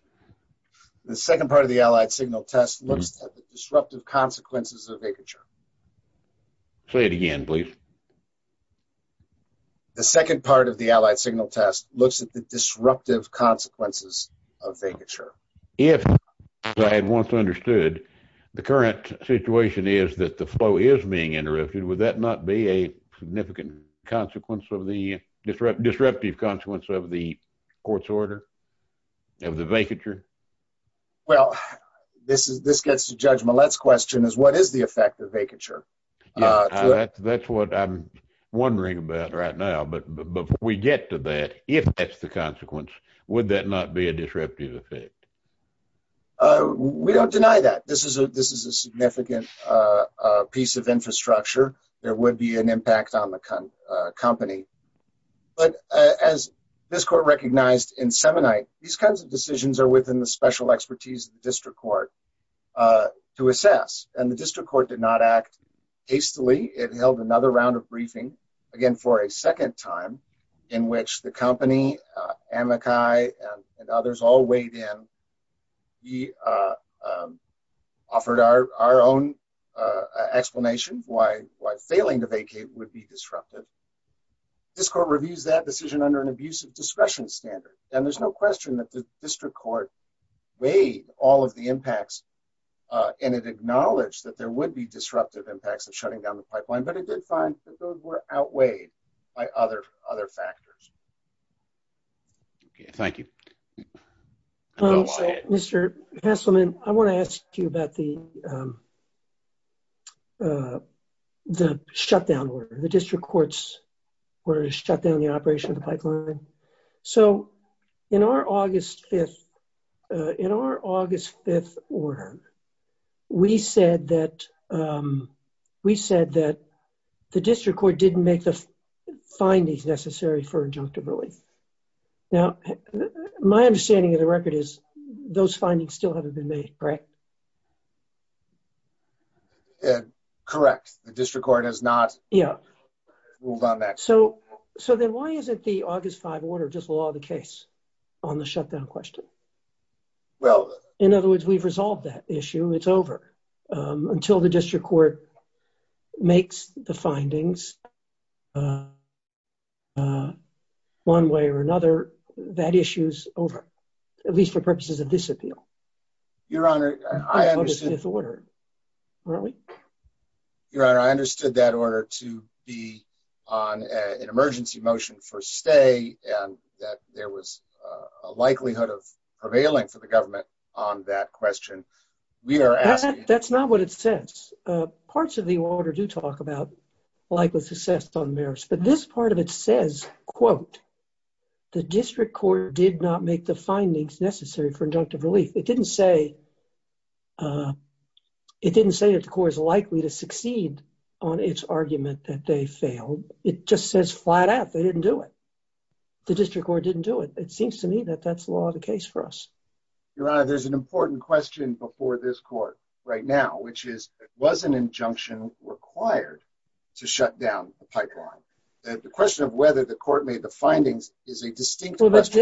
The second part of the Allied Signal Test looks at the disruptive consequences of vacature. MR. WILKERSON Say it again, please. MR. WILKERSON The second part of the Allied Signal Test looks at the disruptive consequences of vacature. MR. WILKERSON If, as I had once understood, the current situation is that the flow is being interrupted, would that not be a significant consequence of the disruptive consequence of the court's order of the vacature? MR. WILKERSON Well, this gets to Judge Millett's question, is what is the effect of vacature? MR. WILKERSON That's what I'm wondering about right now. But before we get to that, if that's the consequence, would that not be a disruptive effect? MR. WILKERSON We don't deny that. This is a significant piece of infrastructure that would be an impact on the company. But as this court recognized in Semonite, these kinds of decisions are within the special expertise of the district court to assess. And the district court did not act hastily. It held another round of briefing, again for a second time, in which the company, Amakai, and others all weighed in. We offered our own explanation why failing the vacate would be disruptive. This court reviews that decision under an abuse of discretion standard. And there's no question that the district court weighed all of the impacts, and it acknowledged that there would be disruptive impacts of shutting down the pipeline. But it did find that those were outweighed by other factors. MR. HESSELMANN Thank you. MR. WILKERSON Mr. Hesselmann, I want to ask you about the shutdown order. The district courts were shut down in the operation of the pipeline. So in our August 5th order, we said that the district court didn't make the findings necessary for an injunctive ruling. Now, my understanding of the record is those findings still haven't been made, correct? MR. HESSELMANN Correct. The district court has not moved on that. WILKERSON So then why isn't the August 5th order just law of the case on the shutdown question? MR. HESSELMANN Well – MR. WILKERSON In other words, we've resolved that issue. It's over. Until the district court makes the findings one way or another, that issue's over, at least for purposes of disappeal. MR. HESSELMANN Your Honor, I understand – MR. WILKERSON That's August 5th order, isn't it? MR. HESSELMANN Your Honor, I understood that order to be on an emergency motion for stay, and that there was a likelihood of prevailing for the government on that question. We are asking – MR. WILKERSON That's not what it says. Parts of the order do talk about likely success on merits, but this part of it says, quote, the district court did not make the findings necessary for injunctive relief. It didn't say that the court was likely to succeed on its argument that they failed. It just says flat out they didn't do it. The district court didn't do it. It seems to me that that's law of the case for us. MR. HESSELMANN Your Honor, there's an important question before this court right now, which is, was an injunction required to shut down the pipeline? The question of whether the court made the findings is a distinct question. MR.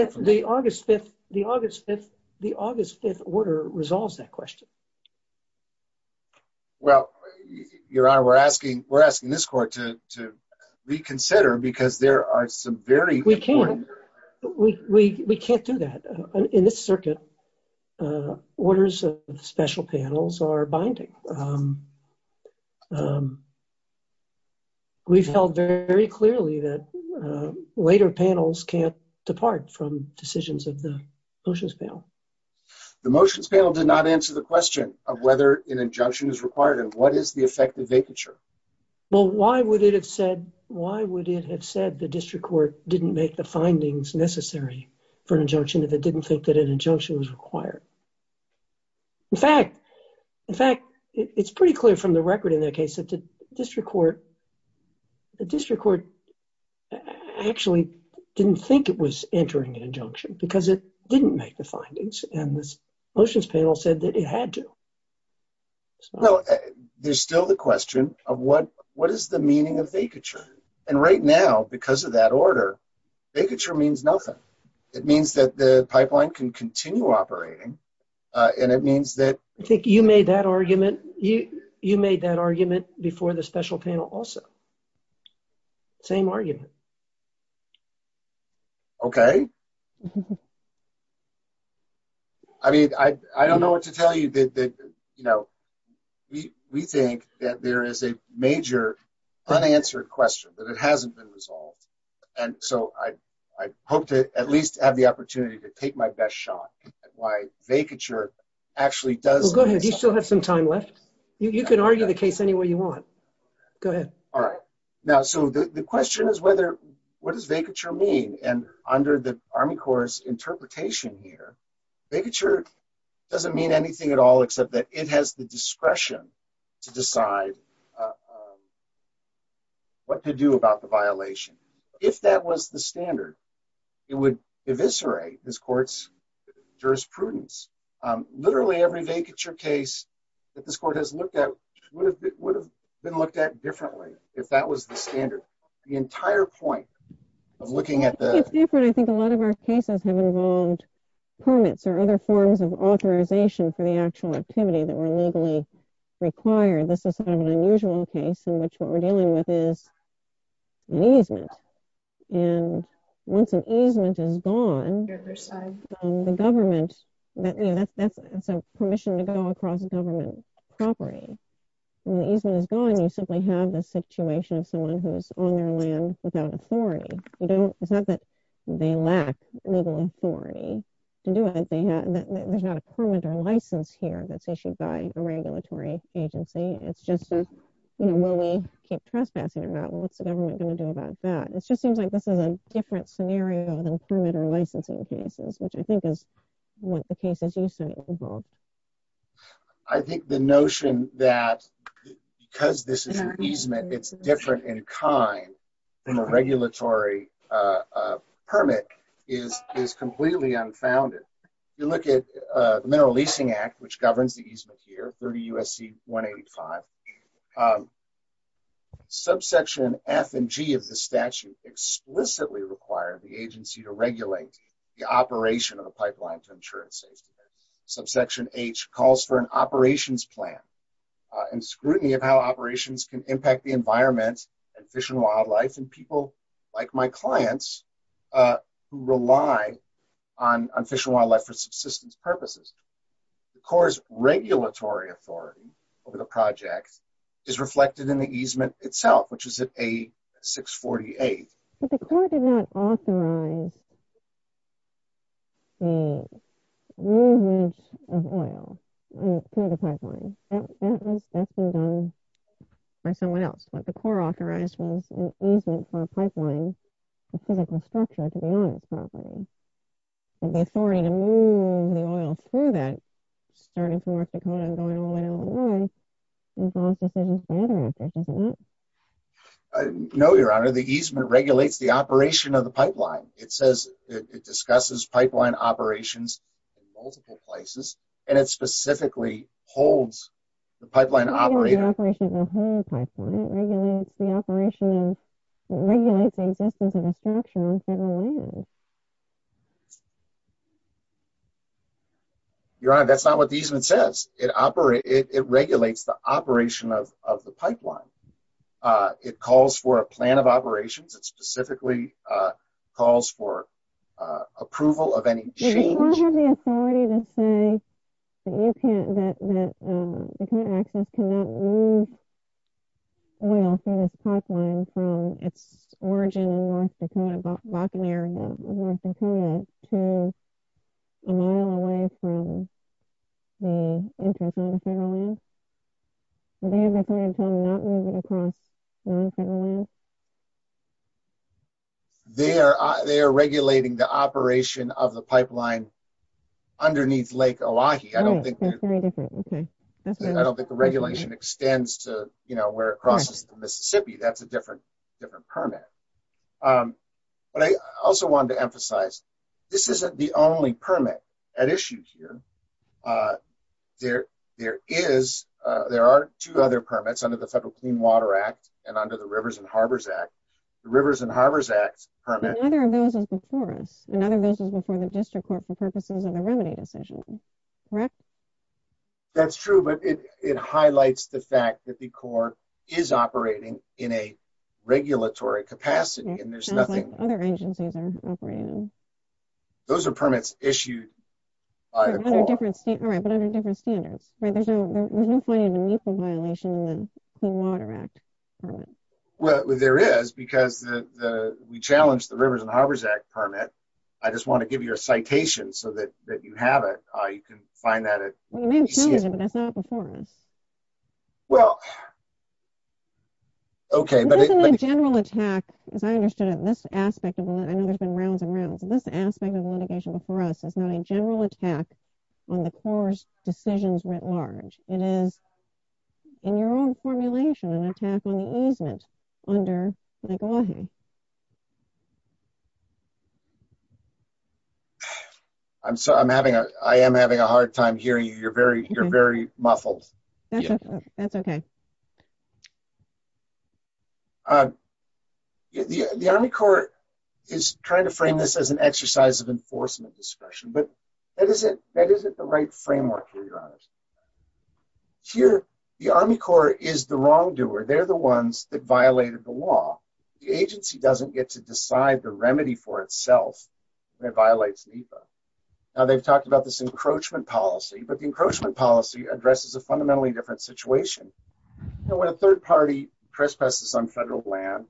WILKERSON What if order resolves that question? HESSELMANN Well, Your Honor, we're asking this court to reconsider, because there are some very MR. WILKERSON We can't. We can't do that. In this circuit, orders of special panels are binding. We've held very clearly that later panels can't depart from decisions of the solutions panel. The motions panel did not answer the question of whether an injunction is required, and what is the effective vacature? WILKERSON Well, why would it have said the district court didn't make the findings necessary for an injunction if it didn't think that an injunction was required? In fact, it's pretty clear from the record in that case that the district court actually didn't think it was entering an injunction, because it didn't make the findings and was saying that it had to. HESSELMANN Well, there's still the question of what is the meaning of vacature? And right now, because of that order, vacature means nothing. It means that the pipeline can continue operating, and it means that MR. WILKERSON I think you made that argument before the special panel also. Same argument. HESSELMANN Okay. I mean, I don't know what to tell you. We think that there is a major unanswered question, but it hasn't been resolved. And so I hope to at least have the opportunity to take my best shot at why vacature actually MR. WILKERSON Well, go ahead. You still have some time left. You can argue the case any way you want. Go ahead. HESSELMANN All right. Now, so the question is what does vacature mean? And under the Army Corps' interpretation here, vacature doesn't mean anything at all except that it has the discretion to decide what to do about the violation. If that was the standard, it would eviscerate this court's jurisprudence. Literally every vacature case that this court has looked at would have been looked at differently if that was the standard. The entire point of looking at the WILKERSON It's different. I think a lot of our cases have involved permits or other forms of authorization for the actual activity that were legally required. This is an unusual case in which what we're dealing with is an easement. And once an easement is gone, the government, you know, that's a permission to go across government property. When the easement is gone, you simply have the situation of someone who is on their land without authority. It's not that they lack legal authority to do it. There's not a permit or license here that's issued by a regulatory agency. It's just, you know, will we keep trespassing or not? What's the government going to do about that? It just seems like this is a different scenario than permit or licensing cases, which I think is what the cases you sent involved. I think the notion that because this is an easement, it's different in kind than a regulatory permit is completely unfounded. If you look at the Mineral Leasing Act, which governs the easement here, 30 U.S.C. 185, subsection F and G of the statute explicitly require the agency to regulate the operation of the pipeline to insurance savings. Subsection H calls for an operations plan and scrutiny of how operations can impact the environment and fish and wildlife and people like my clients who rely on fish and wildlife for subsistence purposes. The Corps' regulatory authority over the project is reflected in the easement itself, which is at A648. But the Corps did not authorize the movement of oil through the pipeline. That was best done by someone else. What the Corps authorized was an easement for a pipeline specifical structure to the oil property. But the authority to move the oil through that, starting from North Dakota and going all the way all the way, was also set in the statute, was it not? No, Your Honor. The easement regulates the operation of the pipeline. It says it discusses pipeline operations in multiple places, and it specifically holds the pipeline operator. Your Honor, that's not what the easement says. It regulates the operation of the pipeline. It calls for a plan of operations. It specifically calls for approval of any change. They are regulating the operation of the pipeline underneath Lake Elahi. I don't think the regulation extends to where it crosses Mississippi. That's a different permit. But I also wanted to emphasize this isn't the only permit at issue here. There are two other permits under the Federal Clean Water Act and under the Rivers and Harbors Act. The Rivers and Harbors Act permits… But other agencies permit. And other agencies permit district courts for purposes of a remedy decision. Correct? That's true, but it highlights the fact that the Corps is operating in a regulatory capacity, and there's nothing… Other agencies are operating. Those are permits issued by the Corps. All right, but there's a different standard. There's no finding of a mutual violation in the Clean Water Act. Well, there is, because we challenged the Rivers and Harbors Act permit. I just want to give you a citation so that you have it. You can find that at… Well, you may have challenged it, but that's not before now. Well, okay, but… This is a general attack, as I understand it. This aspect of the… I know there's been rounds and rounds, but this aspect of the litigation before us is a general attack on the Corps' decisions writ large. It is, in your own formulation, an attack on the easement under Nagohe. I'm sorry. I'm having a… I am having a hard time hearing you. You're very… You're very muffled. That's okay. The Army Corps is trying to frame this as an exercise of enforcement discretion, but that isn't the right framework, for your honors. Here, the Army Corps is the wrongdoer. They're the ones that violated the law. The agency doesn't get to decide the remedy for itself when it violates NEPA. Now, they've talked about this encroachment policy, but the encroachment policy addresses a fundamentally different situation. Now, when a third party trespasses on federal land,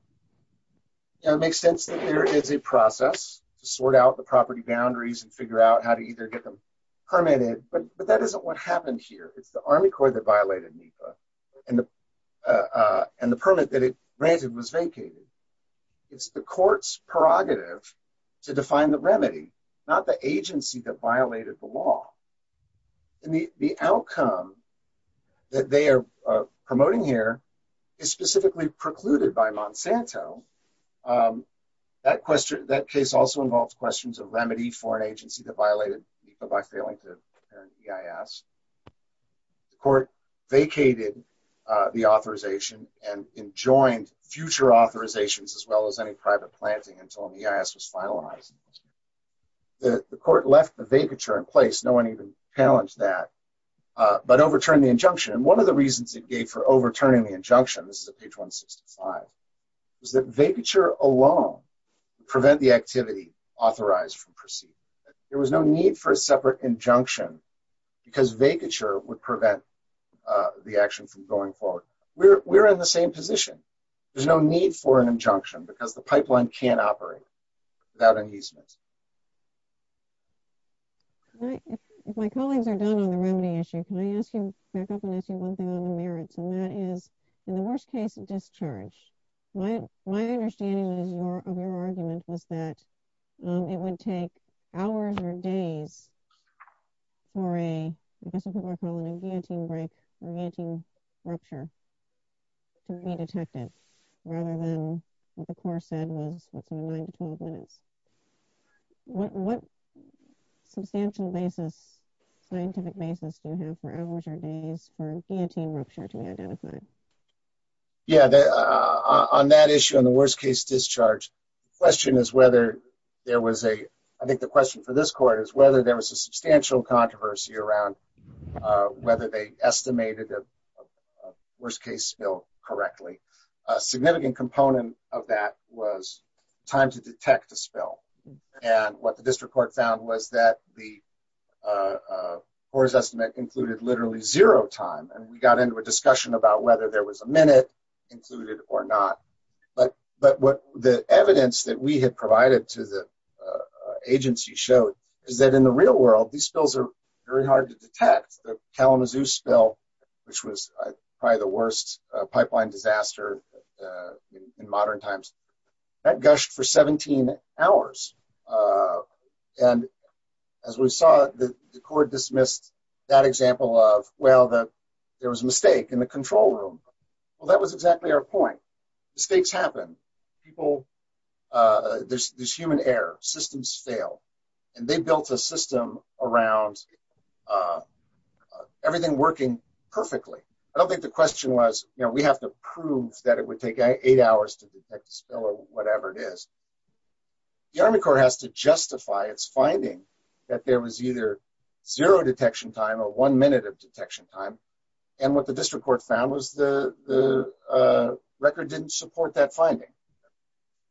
it makes sense that there is a process to sort out the property boundaries and figure out how to either get them permitted, but that isn't what happened here. It's the Army Corps that violated NEPA, and the permit that it granted was vacated. It's the court's prerogative to define the remedy, not the agency that violated the law. The outcome that they are promoting here is specifically precluded by Monsanto. That case also involved questions of remedy for an agency that violated NEPA by failing to return EIS. The court vacated the authorization and enjoined future authorizations as well as any private planting until an EIS was finalized. The court left the vacature in place. No one even challenged that, but overturned the injunction, and one of the reasons it gave for overturning the injunction, this is at page 165, is that vacature alone would prevent the activity authorized from proceeding. There was no need for a separate injunction because vacature would prevent the action from going forward. We're in the same position. There's no need for an injunction because the pipeline can't operate without an easement. If my colleagues are done on the remedy issue, can I ask you to back up and ask you one thing on the merits? And that is, in the worst case, it discharged. My understanding of your argument was that it would take hours or days for a, I guess this is what we're calling, a VAT break, a VAT rupture, to be detected, rather than, as the court said, within 9 to 12 minutes. What substantial scientific basis do you have for hours or days for a VAT rupture to be identified? Yeah, on that issue, on the worst case discharge, the question is whether there was a, I think the question for this court is whether there was a substantial controversy around whether they estimated a worst case spill correctly. A significant component of that was time to detect the spill. What the district court found was that the Hoare's estimate included literally zero time, and we got into a discussion about whether there was a minute included or not. But the evidence that we had provided to the agency showed is that in the real world, these spills are very hard to detect. The Talamazoo spill, which was probably the worst pipeline disaster in modern times, that gushed for 17 hours. And as we saw, the court dismissed that example of, well, there was a mistake in the control room. Well, that was exactly our point. Mistakes happen. People, there's human error. Systems fail. And they built a system around everything working perfectly. I don't think the question was, you know, that it would take eight hours to detect the spill or whatever it is. The Army Corps has to justify its finding that there was either zero detection time or one minute of detection time. And what the district court found was the record didn't support that finding.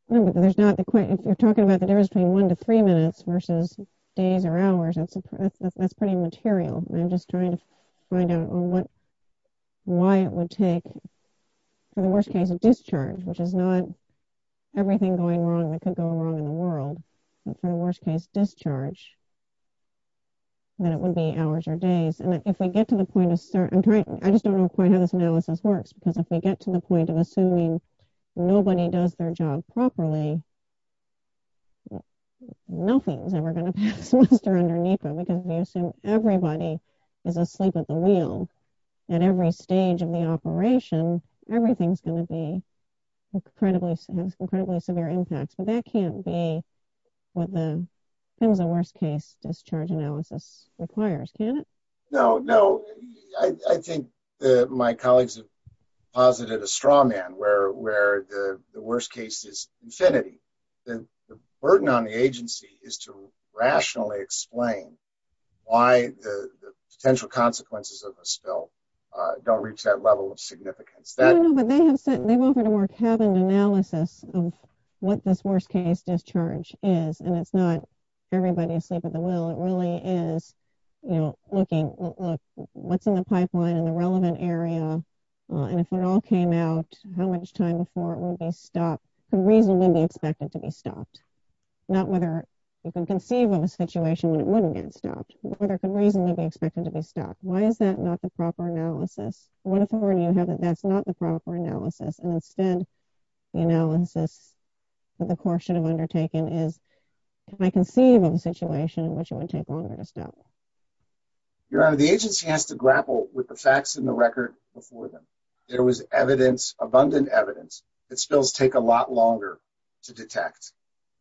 But there's not the point, if you're talking about the difference between one to three minutes versus days or hours, that's pretty material. I'm just trying to find out why it would take, for the worst case, a discharge, which is not everything going wrong that could go wrong in the world. But for the worst case discharge, that would be hours or days. And if we get to the point of start, I'm trying, I just don't know quite how this analysis works, because if we get to the point of assuming nobody does their job properly, nothing is ever going to pass underneath them, because we assume everybody is asleep at the wheel. At every stage of the operation, everything's going to be incredibly severe impact. So that can't be what the worst case discharge analysis requires, can it? No, no, I think that my colleagues have posited a straw man, where the worst case is infinity. And the burden on the agency is to rationally explain why the potential consequences of a spill don't reach that level of significance. I don't know, but they have said, they want a more cabin analysis of what this worst case discharge is. And it's not everybody asleep at the wheel. It really is, you know, looking, what's in the pipeline in the relevant area? And if it all came out, how much time before it will be stopped? The reason will be expected to be stopped. Not whether you can conceive of a situation that wouldn't get stopped, but whether there's a reason to be expected to be stopped. Why is that not the proper analysis? What if somebody hasn't, that's not the proper analysis? And instead, you know, the precaution of undertaking is, if I conceive of a situation in which it would take longer to stop. Your Honor, the agency has to grapple with the facts in the record before them. There was evidence, abundant evidence, that spills take a lot longer to detect.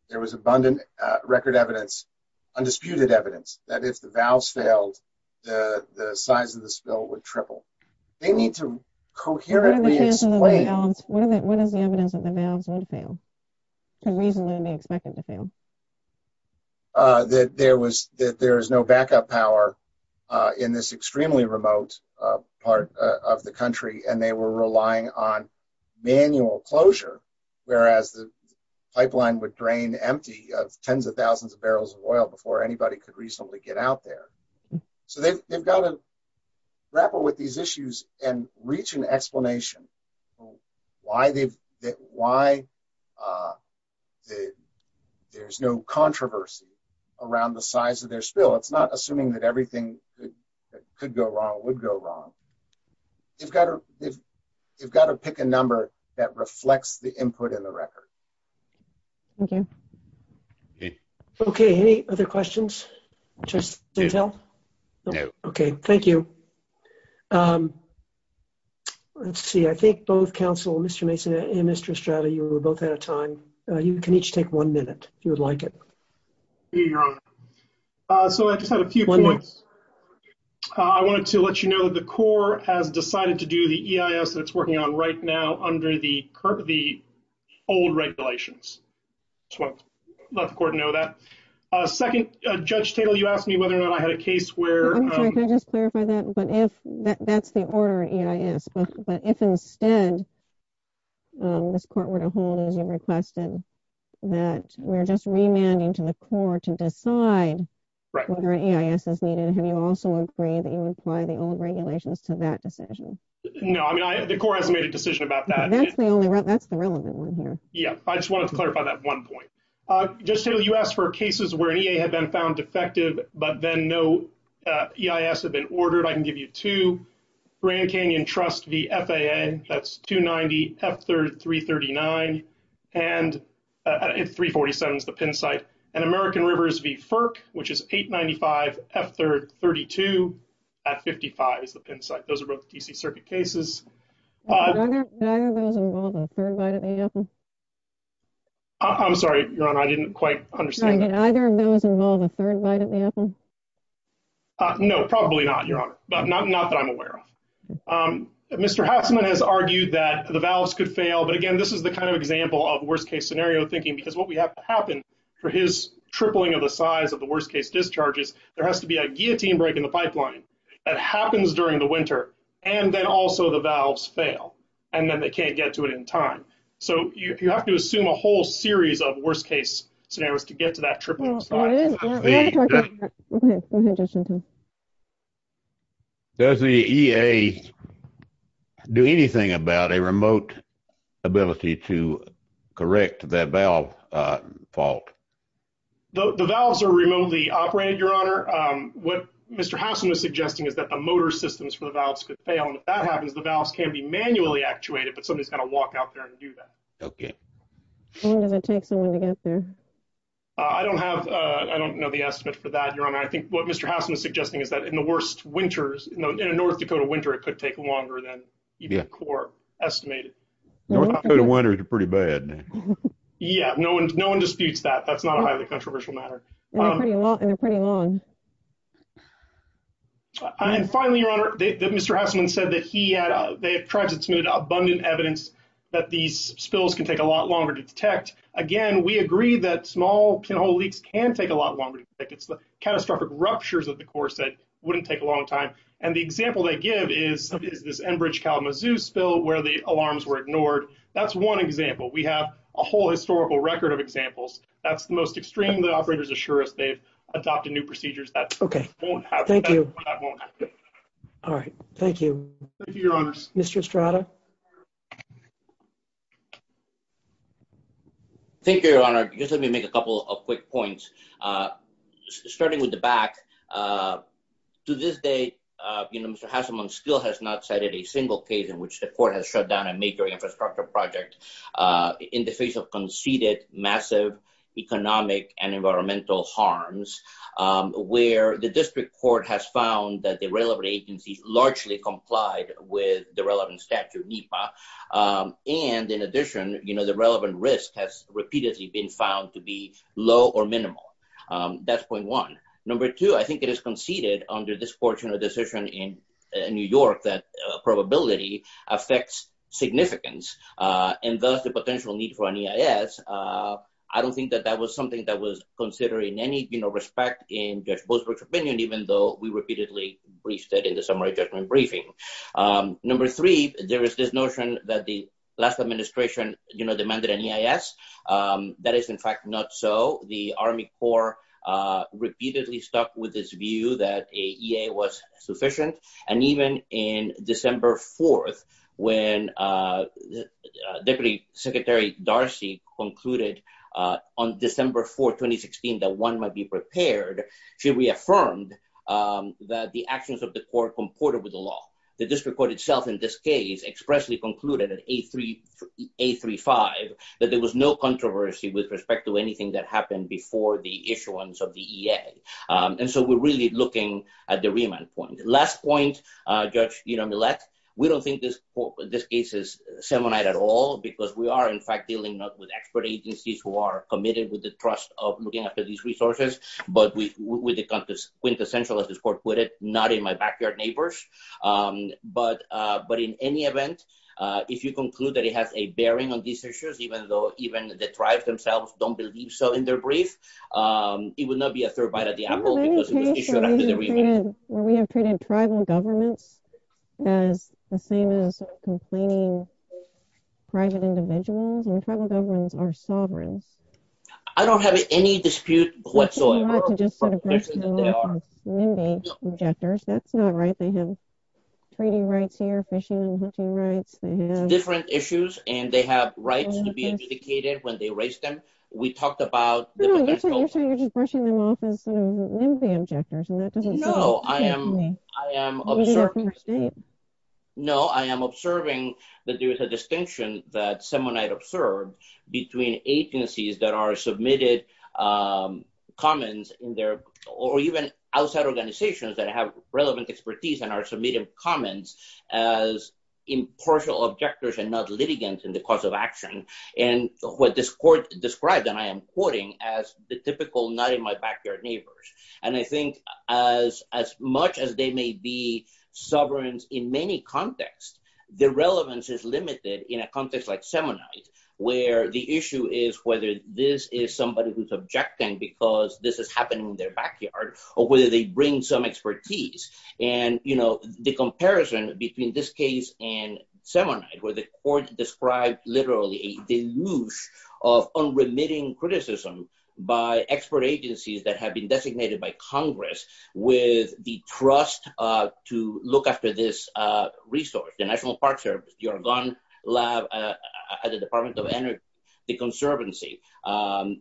There was abundant record evidence, undisputed evidence, that if the valves failed, the size of the spill would triple. They need to coherently explain. What is the evidence that the valves would fail? The reason will be expected to fail. That there was, that there is no backup power in this extremely remote part of the country, and they were relying on manual closure, whereas the pipeline would drain empty of tens of thousands of barrels of oil before anybody could reasonably get out there. So they've got to grapple with these issues and reach an explanation. Why there's no controversy around the size of their spill. It's not assuming that everything that could go wrong would go wrong. You've got to pick a number that reflects the input in the record. Thank you. Okay, any other questions? No. Okay, thank you. Um, let's see. I think both counsel, Mr. Mason and Mr. Estrada, you were both out of time. You can each take one minute, if you would like it. You're on. So I just had a few points. I wanted to let you know that the Corps has decided to do the EIS that it's working on right now under the old regulations. Just wanted to let the Corps know that. Second, Judge Taylor, you asked me whether or not I had a case where... Can I just clarify that? But that's the order of EIS. But if instead, this court were to hold as you requested, that we're just remanding to the Corps to decide whether EIS is needed, have you also agreed that you would apply the old regulations to that decision? No, I mean, the Corps hasn't made a decision about that. That's the only one. That's the relevant one here. Yeah, I just wanted to clarify that one point. Just so you asked for cases where EA had been found defective, but then no EIS had been ordered, I can give you two. Grand Canyon Trust v. FAA, that's 290, F339, and 347 is the pin site. And American Rivers v. FERC, which is 895, F332, at 55 is the pin site. Those are both D.C. Circuit cases. I'm sorry, Your Honor, I didn't quite understand. Did either of those involve a third vital sample? No, probably not, Your Honor. Not that I'm aware of. Mr. Hoffman has argued that the valves could fail. But again, this is the kind of example of worst-case scenario thinking, because what we have to happen for his tripling of the size of the worst-case discharges, there has to be a guillotine break in the pipeline that happens during the winter, and then also the valves fail. And then they can't get to it in time. So you have to assume a whole series of worst-case scenarios to get to that tripling spot. Does the EA do anything about a remote ability to correct that valve fault? The valves are remotely operated, Your Honor. What Mr. Hoffman is suggesting is that the motor systems for the valves could fail. And if that happens, the valves can be manually actuated, but somebody's got to walk out there and do that. I don't have, I don't know the estimate for that, Your Honor. I think what Mr. Hoffman is suggesting is that in the worst winters, you know, in a North Dakota winter, it could take longer than even core estimated. North Dakota winters are pretty bad. Yeah, no one disputes that. That's not a highly controversial matter. And finally, Your Honor, Mr. Hoffman said that he had, abundant evidence that these spills can take a lot longer to detect. Again, we agree that small leaks can take a lot longer to detect. It's the catastrophic ruptures of the course that wouldn't take a long time. And the example that I give is this Enbridge-Kalamazoo spill, where the alarms were ignored. That's one example. We have a whole historical record of examples. That's the most extreme that operators assure us they've adopted new procedures. All right. Thank you, Your Honor. Mr. Estrada? Thank you, Your Honor. Just let me make a couple of quick points. Starting with the back. To this day, you know, Mr. Hasselman still has not cited a single case in which the court has shut down a major infrastructure project in the face of conceded massive economic and environmental harms, where the district court has found that the railroad agency largely complied with the relevant statute, NEPA. And in addition, you know, the relevant risk has repeatedly been found to be low or minimal. That's point one. Number two, I think it is conceded under this portion of the decision in New York, that probability affects significance. And thus the potential need for an EIS. I don't think that that was something that was considered in any, you know, respect in Judge Boothworth's opinion, even though we repeatedly briefed it in the summary judgment briefing. Number three, there is this notion that the last administration, you know, demanded an EIS. That is, in fact, not so. The Army Corps repeatedly stuck with this view that a EA was sufficient. And even in December 4th, when Deputy Secretary Darcy concluded on December 4th, 2016, that one might be prepared, she reaffirmed that the actions of the Corps comported with the law. The district court itself, in this case, expressly concluded in 835, that there was no controversy with respect to anything that happened before the issuance of the EA. And so we're really looking at the remand point. Last point, Judge Dina Millet, we don't think this case is semonite at all because we are, in fact, dealing not with expert agencies who are committed with the trust of looking after these resources, but with the quintessential, as the court put it, not in my backyard neighbors. But in any event, if you conclude that it has a bearing on these issues, even though even the tribes themselves don't believe so in their brief, it would not be a third bite at the apple because it was issued after the briefing. Will we have treated tribal government as the same as complaining private individuals? When tribal governments are sovereign. I don't have any dispute whatsoever. Different issues. And they have rights to be adjudicated when they raise them. We talked about. No, I am observing that there is a distinction that semonite observed between agencies that are submitted comments in their, or even outside organizations that have relevant expertise and are submitting comments as impartial objectors and not litigants in the course of action. And what this court described, and I am quoting as the typical, not in my backyard neighbors. And I think as much as they may be sovereign in many contexts, the relevance is limited in a context like semonite, where the issue is whether this is somebody who's objecting because this is happening in their backyard or whether they bring some expertise. And, you know, the comparison between this case and semonite, where the court described literally a deluge of unremitting criticism by expert agencies that have been designated by Congress with the trust to look after this resource, your gun lab at the Department of Energy, the conservancy.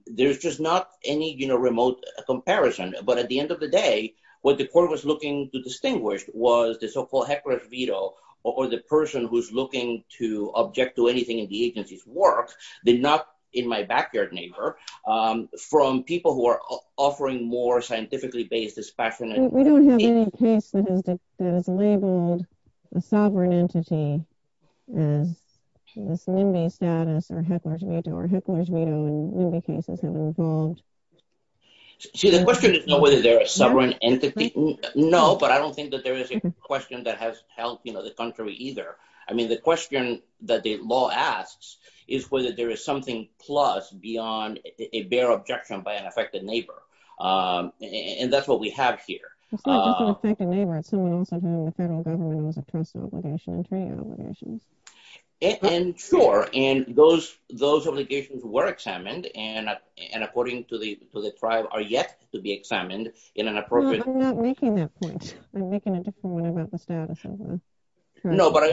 There's just not any, you know, remote comparison. But at the end of the day, what the court was looking to distinguish was the so-called heckler veto, or the person who's looking to object to anything in the agency's work, did not in my backyard neighbor, from people who are offering more scientifically based dispassionate. We don't have any case that has labeled a sovereign entity as a semonite status or heckler's veto, or heckler's veto in many cases have evolved. See, the question is not whether they're a sovereign entity. No, but I don't think that there is a question that has helped, you know, the country either. I mean, the question that the law asks is whether there is something plus beyond a bare objection by an affected neighbor. And that's what we have here. It's not just an affected neighbor, it's someone else in the federal government with a personal obligation, an interior obligation. And sure, and those obligations were examined, and according to the tribe, are yet to be examined in an appropriate... I'm not making that point. I'm making a different one about the status of the... No, but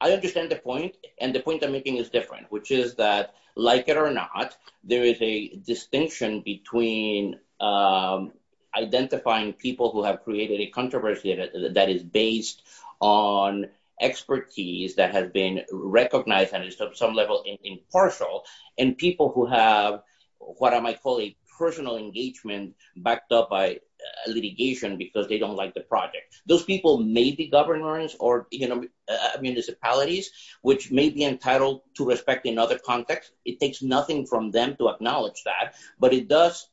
I understand the point. And the point I'm making is different, which is that, like it or not, there is a distinction between identifying people who have created a controversy that is based on expertise that has been recognized at some level impartial, and people who have what I might call a personal engagement backed up by litigation because they don't like the project. Those people may be governors or municipalities, which may be entitled to respect in other contexts. It takes nothing from them to acknowledge that, but it does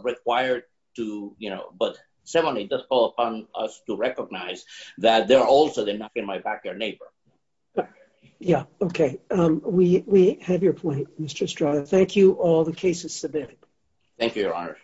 require to... But certainly, it does fall upon us to recognize that they're also the knock-on-my-back-door neighbor. Yeah, okay. We have your point, Mr. Estrada. Thank you. All the cases submitted. Thank you, Your Honor.